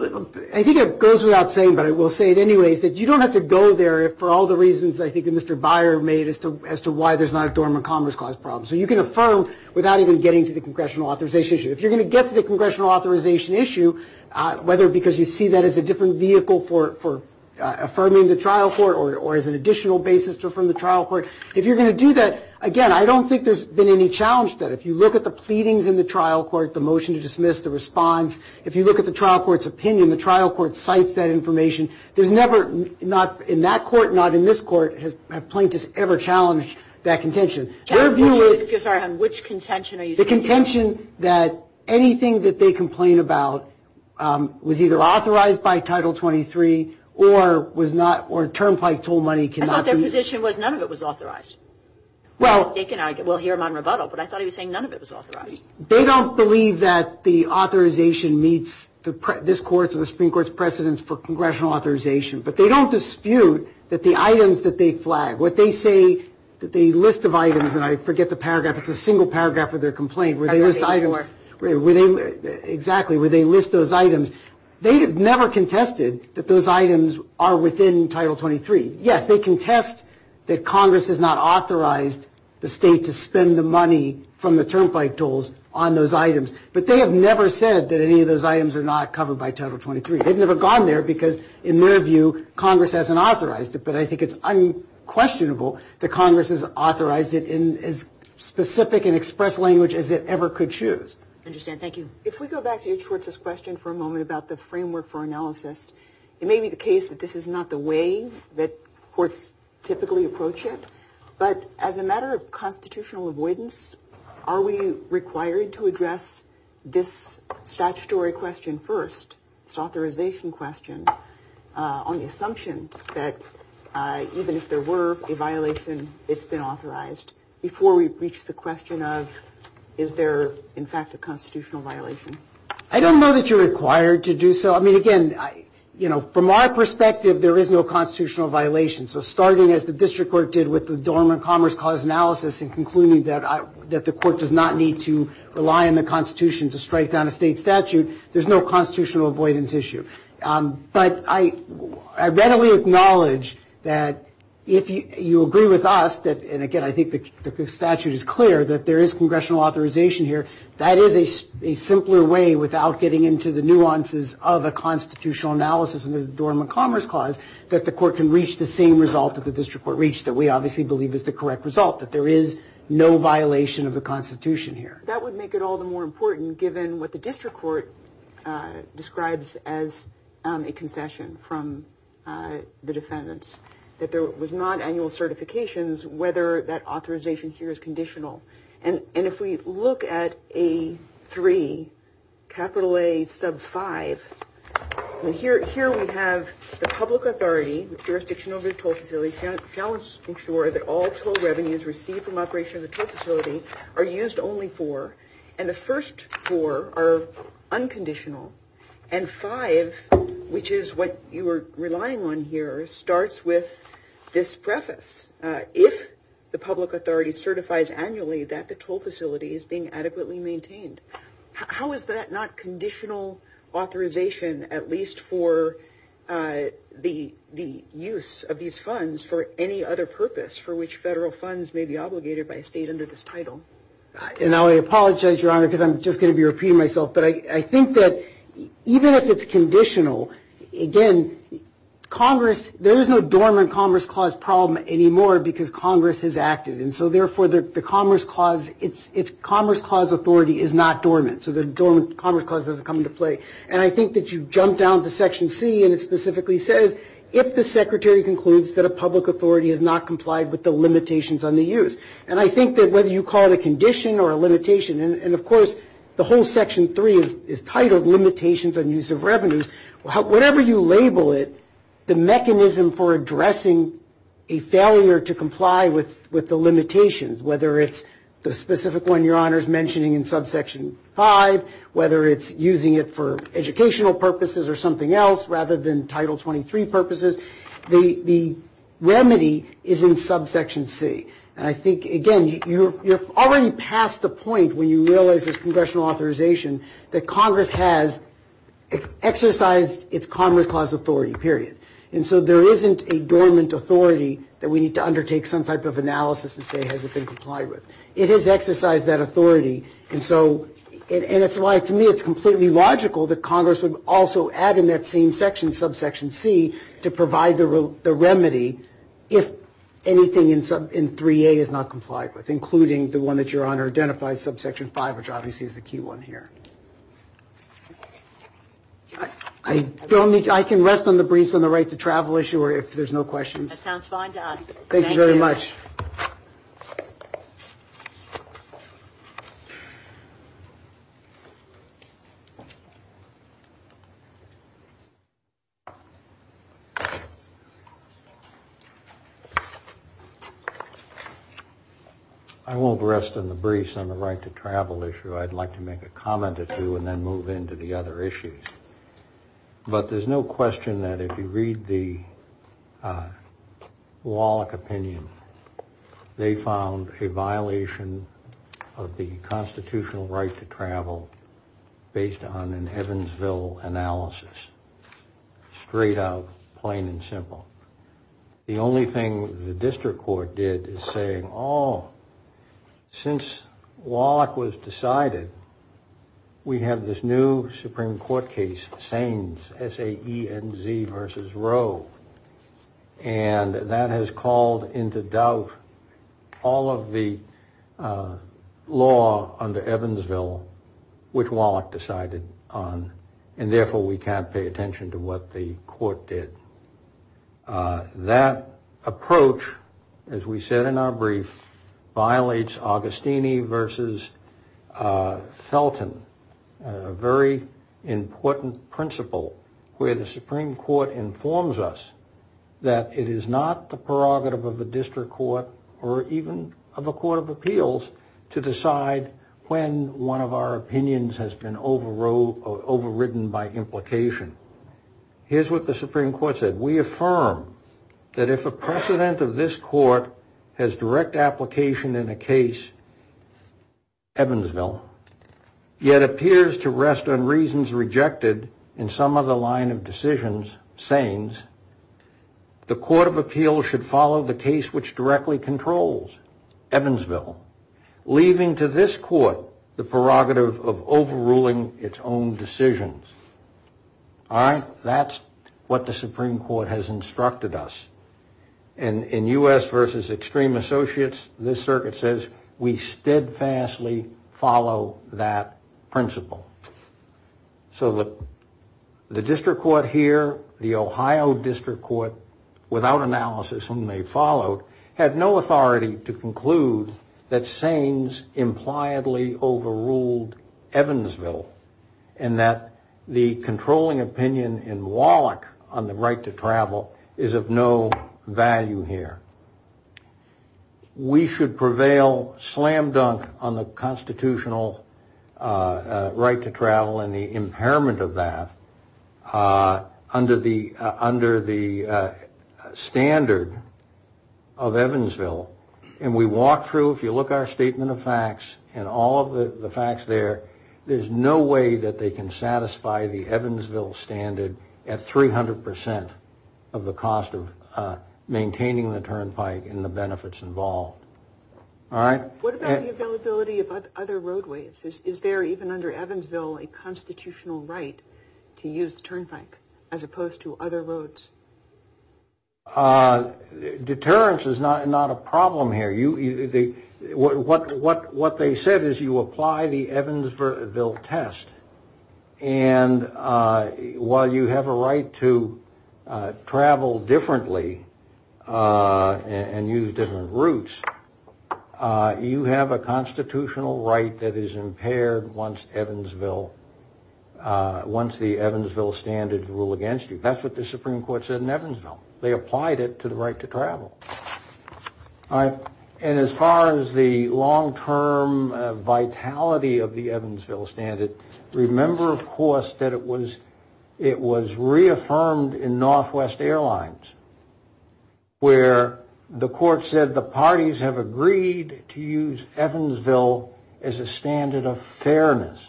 I think it goes without saying, but I will say it anyway, that you don't have to go there for all the reasons I think that Mr. Byer made as to why there's not a dormant commerce clause problem. So you can affirm without even getting to the congressional authorization issue. If you're going to get to the congressional authorization issue, whether because you see that as a different vehicle for affirming the trial court or as an additional basis to affirm the trial court, if you're going to do that, again, I don't think there's been any challenge there. If you look at the pleadings in the trial court, the motion to dismiss, the response, if you look at the trial court's opinion, the trial court cites that information. There's never, not in that court, not in this court, has plaintiffs ever challenged that contention. Their view is, I'm sorry, which contention are you talking about? The contention that anything that they complain about was either authorized by Title 23 or was not, or Turnpike toll money cannot be, I thought their position was none of it was authorized. Well, they can argue, we'll hear them on rebuttal, but I thought he was saying none of it was authorized. They don't believe that the authorization meets this court's or the Supreme Court's precedence for congressional authorization, but they don't dispute that the items that they flag, what they say, that they list of items, and I forget the paragraph, it's a single paragraph with their complaint, where they list items, where they, exactly, where they list those items. They have never contested that those items are within Title 23. Yes, they contest that Congress has not authorized the state to spend the money from the Turnpike tolls on those items, but they have never said that any of those items are not covered by Title 23. They've never gone there because, in their view, Congress hasn't authorized it, but I think it's unquestionable that Congress has authorized it in as specific an express language as it ever could choose. I understand. Thank you. If we go back to H. Hortz's question for a moment about the framework for analysis, it may be the case that this is not the way that courts typically approach it, but as a matter of constitutional avoidance, are we required to address this statutory question first, this authorization question, on the assumption that, even if there were a violation, it's been authorized, before we reach the question of is there, in fact, a constitutional violation? I don't know that you're required to do so. I mean, again, you know, from our perspective, there is no constitutional violation, so starting as the district court did with the Dormant Commerce Clause analysis and concluding that the court does not need to rely on the Constitution to strike down a state statute, there's no constitutional avoidance issue. But I readily acknowledge that if you agree with us, and again, I think the statute is clear, that there is congressional authorization here. That is a simpler way, without getting into the nuances of a constitutional analysis of the Dormant Commerce Clause, that the court can reach the same result that the district court reached that we obviously believe is the correct result, that there is no violation of the Constitution here. That would make it all the more important, given what the district court describes as a confession from the defendants, that there was not annual certifications whether that authorization here is conditional. And if we look at A3, capital A sub 5, here we have the public authority, jurisdictional toll facility, shall ensure that all toll revenues received from operation of the toll facility are used only for, and the first four are unconditional, and five, which is what you are relying on here, starts with this preface. If the public authority certifies annually that the toll facility is being adequately maintained, how is that not conditional authorization at least for the use of these funds for any other purpose for which federal funds may be obligated by a state under this title? And I apologize, Your Honor, because I'm just going to be repeating myself, but I think that even if it's conditional, again, Congress, there is no dormant Commerce Clause problem anymore because Congress is active, and so therefore the Commerce Clause, its Commerce Clause authority is not dormant, so the Commerce Clause doesn't come into play. And I think that you jump down to Section C, and it specifically says, if the Secretary concludes that a public authority has not complied with the limitations on the use. And I think that whether you call it a condition or a limitation, and of course the whole Section 3 is titled Limitations on Use of Revenues, whatever you label it, the mechanism for addressing a failure to comply with the limitations, whether it's the specific one Your Honor is mentioning in Subsection 5, whether it's using it for educational purposes or something else rather than Title 23 purposes, the remedy is in Subsection C. And I think, again, you're already past the point when you realize there's congressional authorization that Congress has exercised its Commerce Clause authority, period. And so there isn't a dormant authority that we need to undertake some type of analysis to say has it been complied with. It has exercised that authority, and so, and it's why to me it's completely logical that Congress would also add in that same section, Subsection C, to provide the remedy if anything in 3A is not complied with, including the one that Your Honor identified, Subsection 5, which obviously is the key one here. I don't need to, I can rest on the briefs on the right to travel issue or if there's no questions. That sounds fine to us. Thank you very much. I won't rest on the briefs on the right to travel issue. I'd like to make a comment or two and then move into the other issues. But there's no question that if you read the Wallach opinion, they found a violation of the constitutional right to travel based on an Evansville analysis. Straight up, plain and simple. The only thing the district court did is say, oh, since Wallach was decided, we have this new Supreme Court case, Saines, S-A-E-N-Z versus Roe, and that has called into doubt all of the law under Evansville which Wallach decided on, and therefore we can't pay attention to what the court did. That approach, as we said in our brief, violates Augustini versus Felton, a very important principle where the Supreme Court informs us that it is not the prerogative of the district court or even of a court of appeals to decide when one of our opinions has been overridden by implication. Here's what the Supreme Court said. We affirm that if a precedent of this court has direct application in a case, Evansville, yet appears to rest on reasons rejected in some other line of decisions, Saines, the court of appeals should follow the case which directly controls Evansville, leaving to this court the prerogative of overruling its own decisions. All right? That's what the Supreme Court has instructed us. In U.S. versus Extreme Associates, this circuit says we steadfastly follow that principle. So the district court here, the Ohio district court, without analysis whom they followed, had no authority to conclude that Saines impliedly overruled Evansville and that the controlling opinion in Wallach on the right to travel is of no value here. We should prevail slam-dunk on the constitutional right to travel and the impairment of that under the standard of Evansville. And we walk through, if you look at our statement of facts and all of the facts there, there's no way that they can satisfy the Evansville standard at 300% of the cost of maintaining the turnpike and the benefits involved. All right? What about the availability of other roadways? Is there, even under Evansville, a constitutional right to use the turnpike as opposed to other roads? Deterrence is not a problem here. What they said is you apply the Evansville test and while you have a right to travel differently and use different routes, you have a constitutional right that is impaired once the Evansville standards rule against you. That's what the Supreme Court said in Evansville. They applied it to the right to travel. All right. And as far as the long-term vitality of the Evansville standard, remember, of course, that it was reaffirmed in Northwest Airlines where the court said the parties have agreed to use Evansville as a standard of fairness.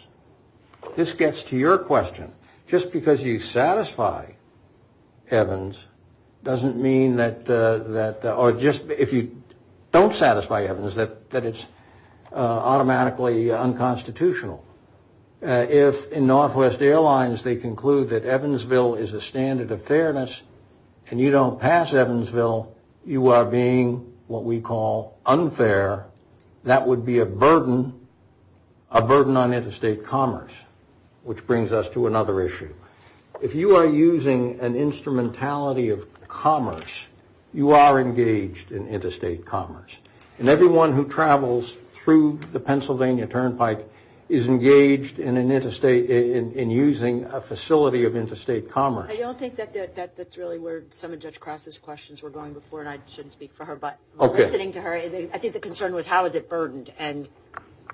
This gets to your question. Just because you satisfy Evans doesn't mean that, or just if you don't satisfy Evans, that it's automatically unconstitutional. If in Northwest Airlines they conclude that Evansville is a standard of fairness and you don't pass Evansville, you are being what we call unfair. That would be a burden, a burden on interstate commerce, which brings us to another issue. If you are using an instrumentality of commerce, you are engaged in interstate commerce. And everyone who travels through the Pennsylvania turnpike is engaged in using a facility of interstate commerce. I don't think that's really where some of Judge Cross's questions were going before, and I shouldn't speak for her, but listening to her, I think the concern was how is it burdened, and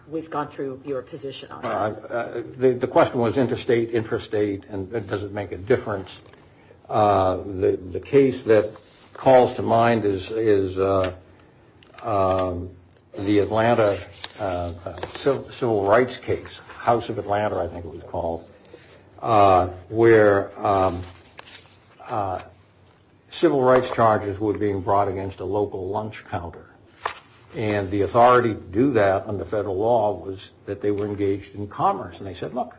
we've gone through your position on that. The question was interstate, intrastate, and does it make a difference. The case that calls to mind is the Atlanta civil rights case, House of Atlanta I think it was called, where civil rights charges were being brought against a local lunch counter. And the authority to do that under federal law was that they were engaged in commerce. And they said, look,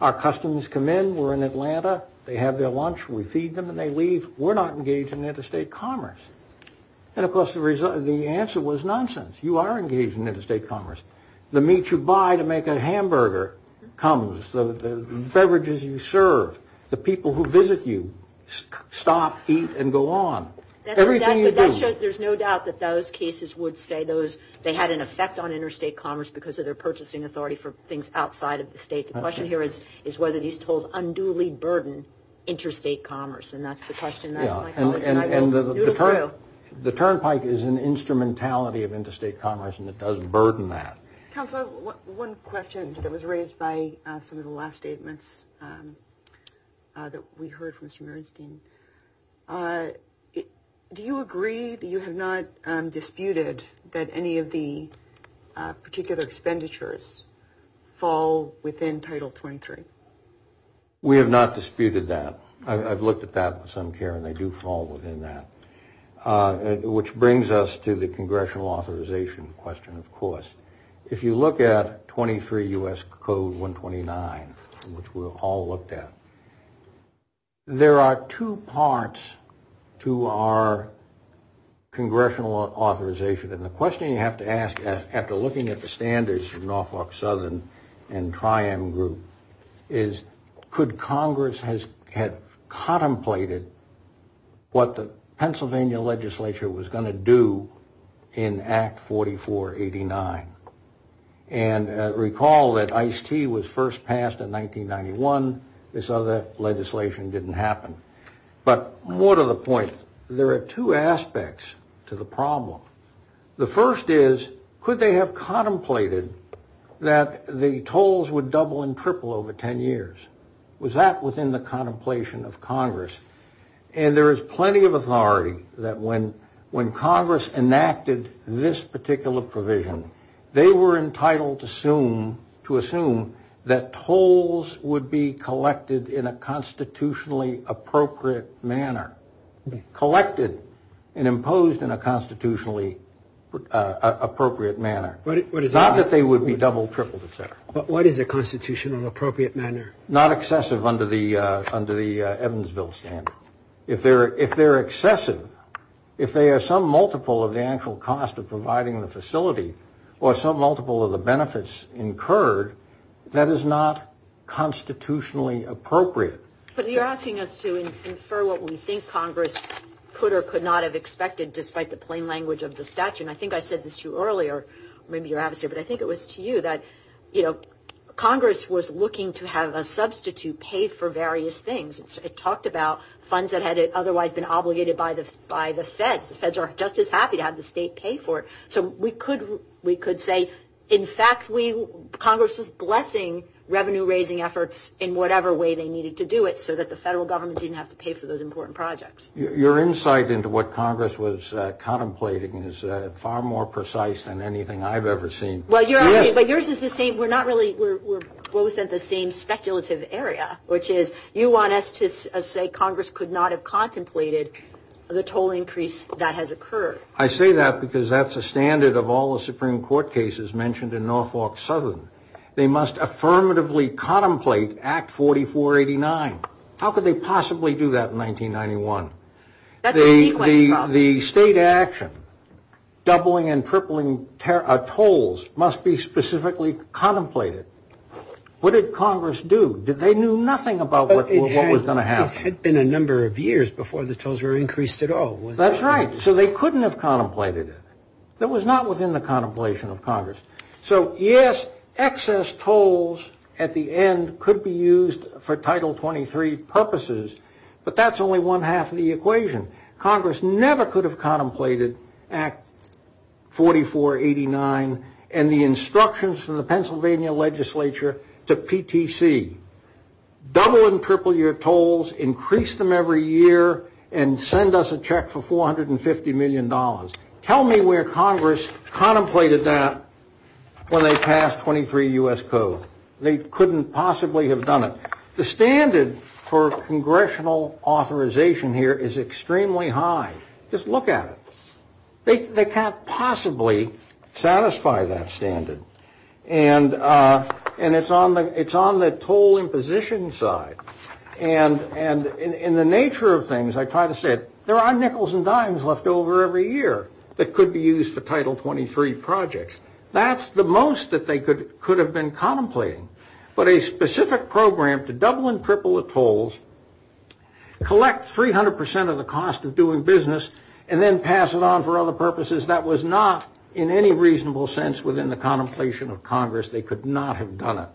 our customers come in. We're in Atlanta. They have their lunch. We feed them, and they leave. We're not engaged in interstate commerce. And of course the answer was nonsense. You are engaged in interstate commerce. The meat you buy to make a hamburger comes. The beverages you serve. The people who visit you stop, eat, and go on. Everything you do. There's no doubt that those cases would say they had an effect on interstate commerce because of their purchasing authority for things outside of the state. The question here is whether these tolls unduly burden interstate commerce, and that's the question. And the turnpike is an instrumentality of interstate commerce, and it does burden that. Counselor, one question that was raised by some of the last statements that we heard from Mr. Bernstein. Do you agree that you have not disputed that any of the particular expenditures fall within Title 23? We have not disputed that. I've looked at that with some care, and they do fall within that. Which brings us to the congressional authorization question, of course. If you look at 23 U.S. Code 129, which we'll all look at, there are two parts to our congressional authorization and the question you have to ask after looking at the standards in Norfolk Southern and Tri-M Group is could Congress have contemplated what the Pennsylvania legislature was going to do in Act 4489? And recall that ICE-T was first passed in 1991. This other legislation didn't happen. But more to the point, there are two aspects to the problem. The first is could they have contemplated that the tolls would double and triple over 10 years? Was that within the contemplation of Congress? And there is plenty of authority that when Congress enacted this particular provision, they were entitled to assume that tolls would be collected in a constitutionally appropriate manner, collected and imposed in a constitutionally appropriate manner. Not that they would be double, tripled, et cetera. But what is a constitutionally appropriate manner? Not excessive under the Evansville standard. If they're excessive, if they are some multiple of the actual cost of providing the facility or some multiple of the benefits incurred, that is not constitutionally appropriate. But you're asking us to infer what we think Congress could or could not have expected, despite the plain language of the statute. And I think I said this to you earlier, maybe you have it here, but I think it was to you, that Congress was looking to have a substitute pay for various things. It talked about funds that had otherwise been obligated by the feds. The feds aren't just as happy to have the state pay for it. So we could say, in fact, Congress is blessing revenue-raising efforts in whatever way they needed to do it so that the federal government didn't have to pay for those important projects. Your insight into what Congress was contemplating is far more precise than anything I've ever seen. But yours is the same. We're both in the same speculative area, which is you want us to say Congress could not have contemplated the total increase that has occurred. I say that because that's a standard of all the Supreme Court cases mentioned in Norfolk Southern. They must affirmatively contemplate Act 4489. How could they possibly do that in 1991? The state action, doubling and tripling tolls, must be specifically contemplated. What did Congress do? They knew nothing about what was going to happen. It had been a number of years before the tolls were increased at all. That's right. So they couldn't have contemplated it. It was not within the contemplation of Congress. So yes, excess tolls at the end could be used for Title 23 purposes, but that's only one half of the equation. Congress never could have contemplated Act 4489 and the instructions from the Pennsylvania legislature to PTC. Double and triple your tolls, increase them every year, and send us a check for $450 million. Tell me where Congress contemplated that when they passed 23 U.S. Code. They couldn't possibly have done it. The standard for congressional authorization here is extremely high. Just look at it. They can't possibly satisfy that standard. And it's on the toll and position side. And in the nature of things, I try to say it, there are nickels and dimes left over every year that could be used for Title 23 projects. That's the most that they could have been contemplating. But a specific program to double and triple the tolls, collect 300% of the cost of doing business, and then pass it on for other purposes, that was not in any reasonable sense within the contemplation of Congress. They could not have done it.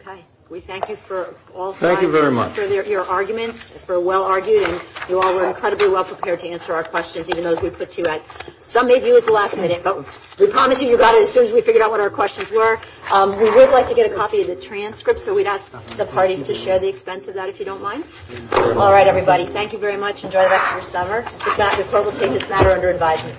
Okay. We thank you for all your arguments, for well-argued, and you all were incredibly well-prepared to answer our questions, even though we put two out. Some of you at the last minute, but we'll comment to you about it as soon as we figure out what our questions were. We would like to get a copy of the transcript, so we'd ask the party to share the expense of that if you don't mind. All right, everybody. Thank you very much. Enjoy the rest of your summer. This has been a program that's not under advisement.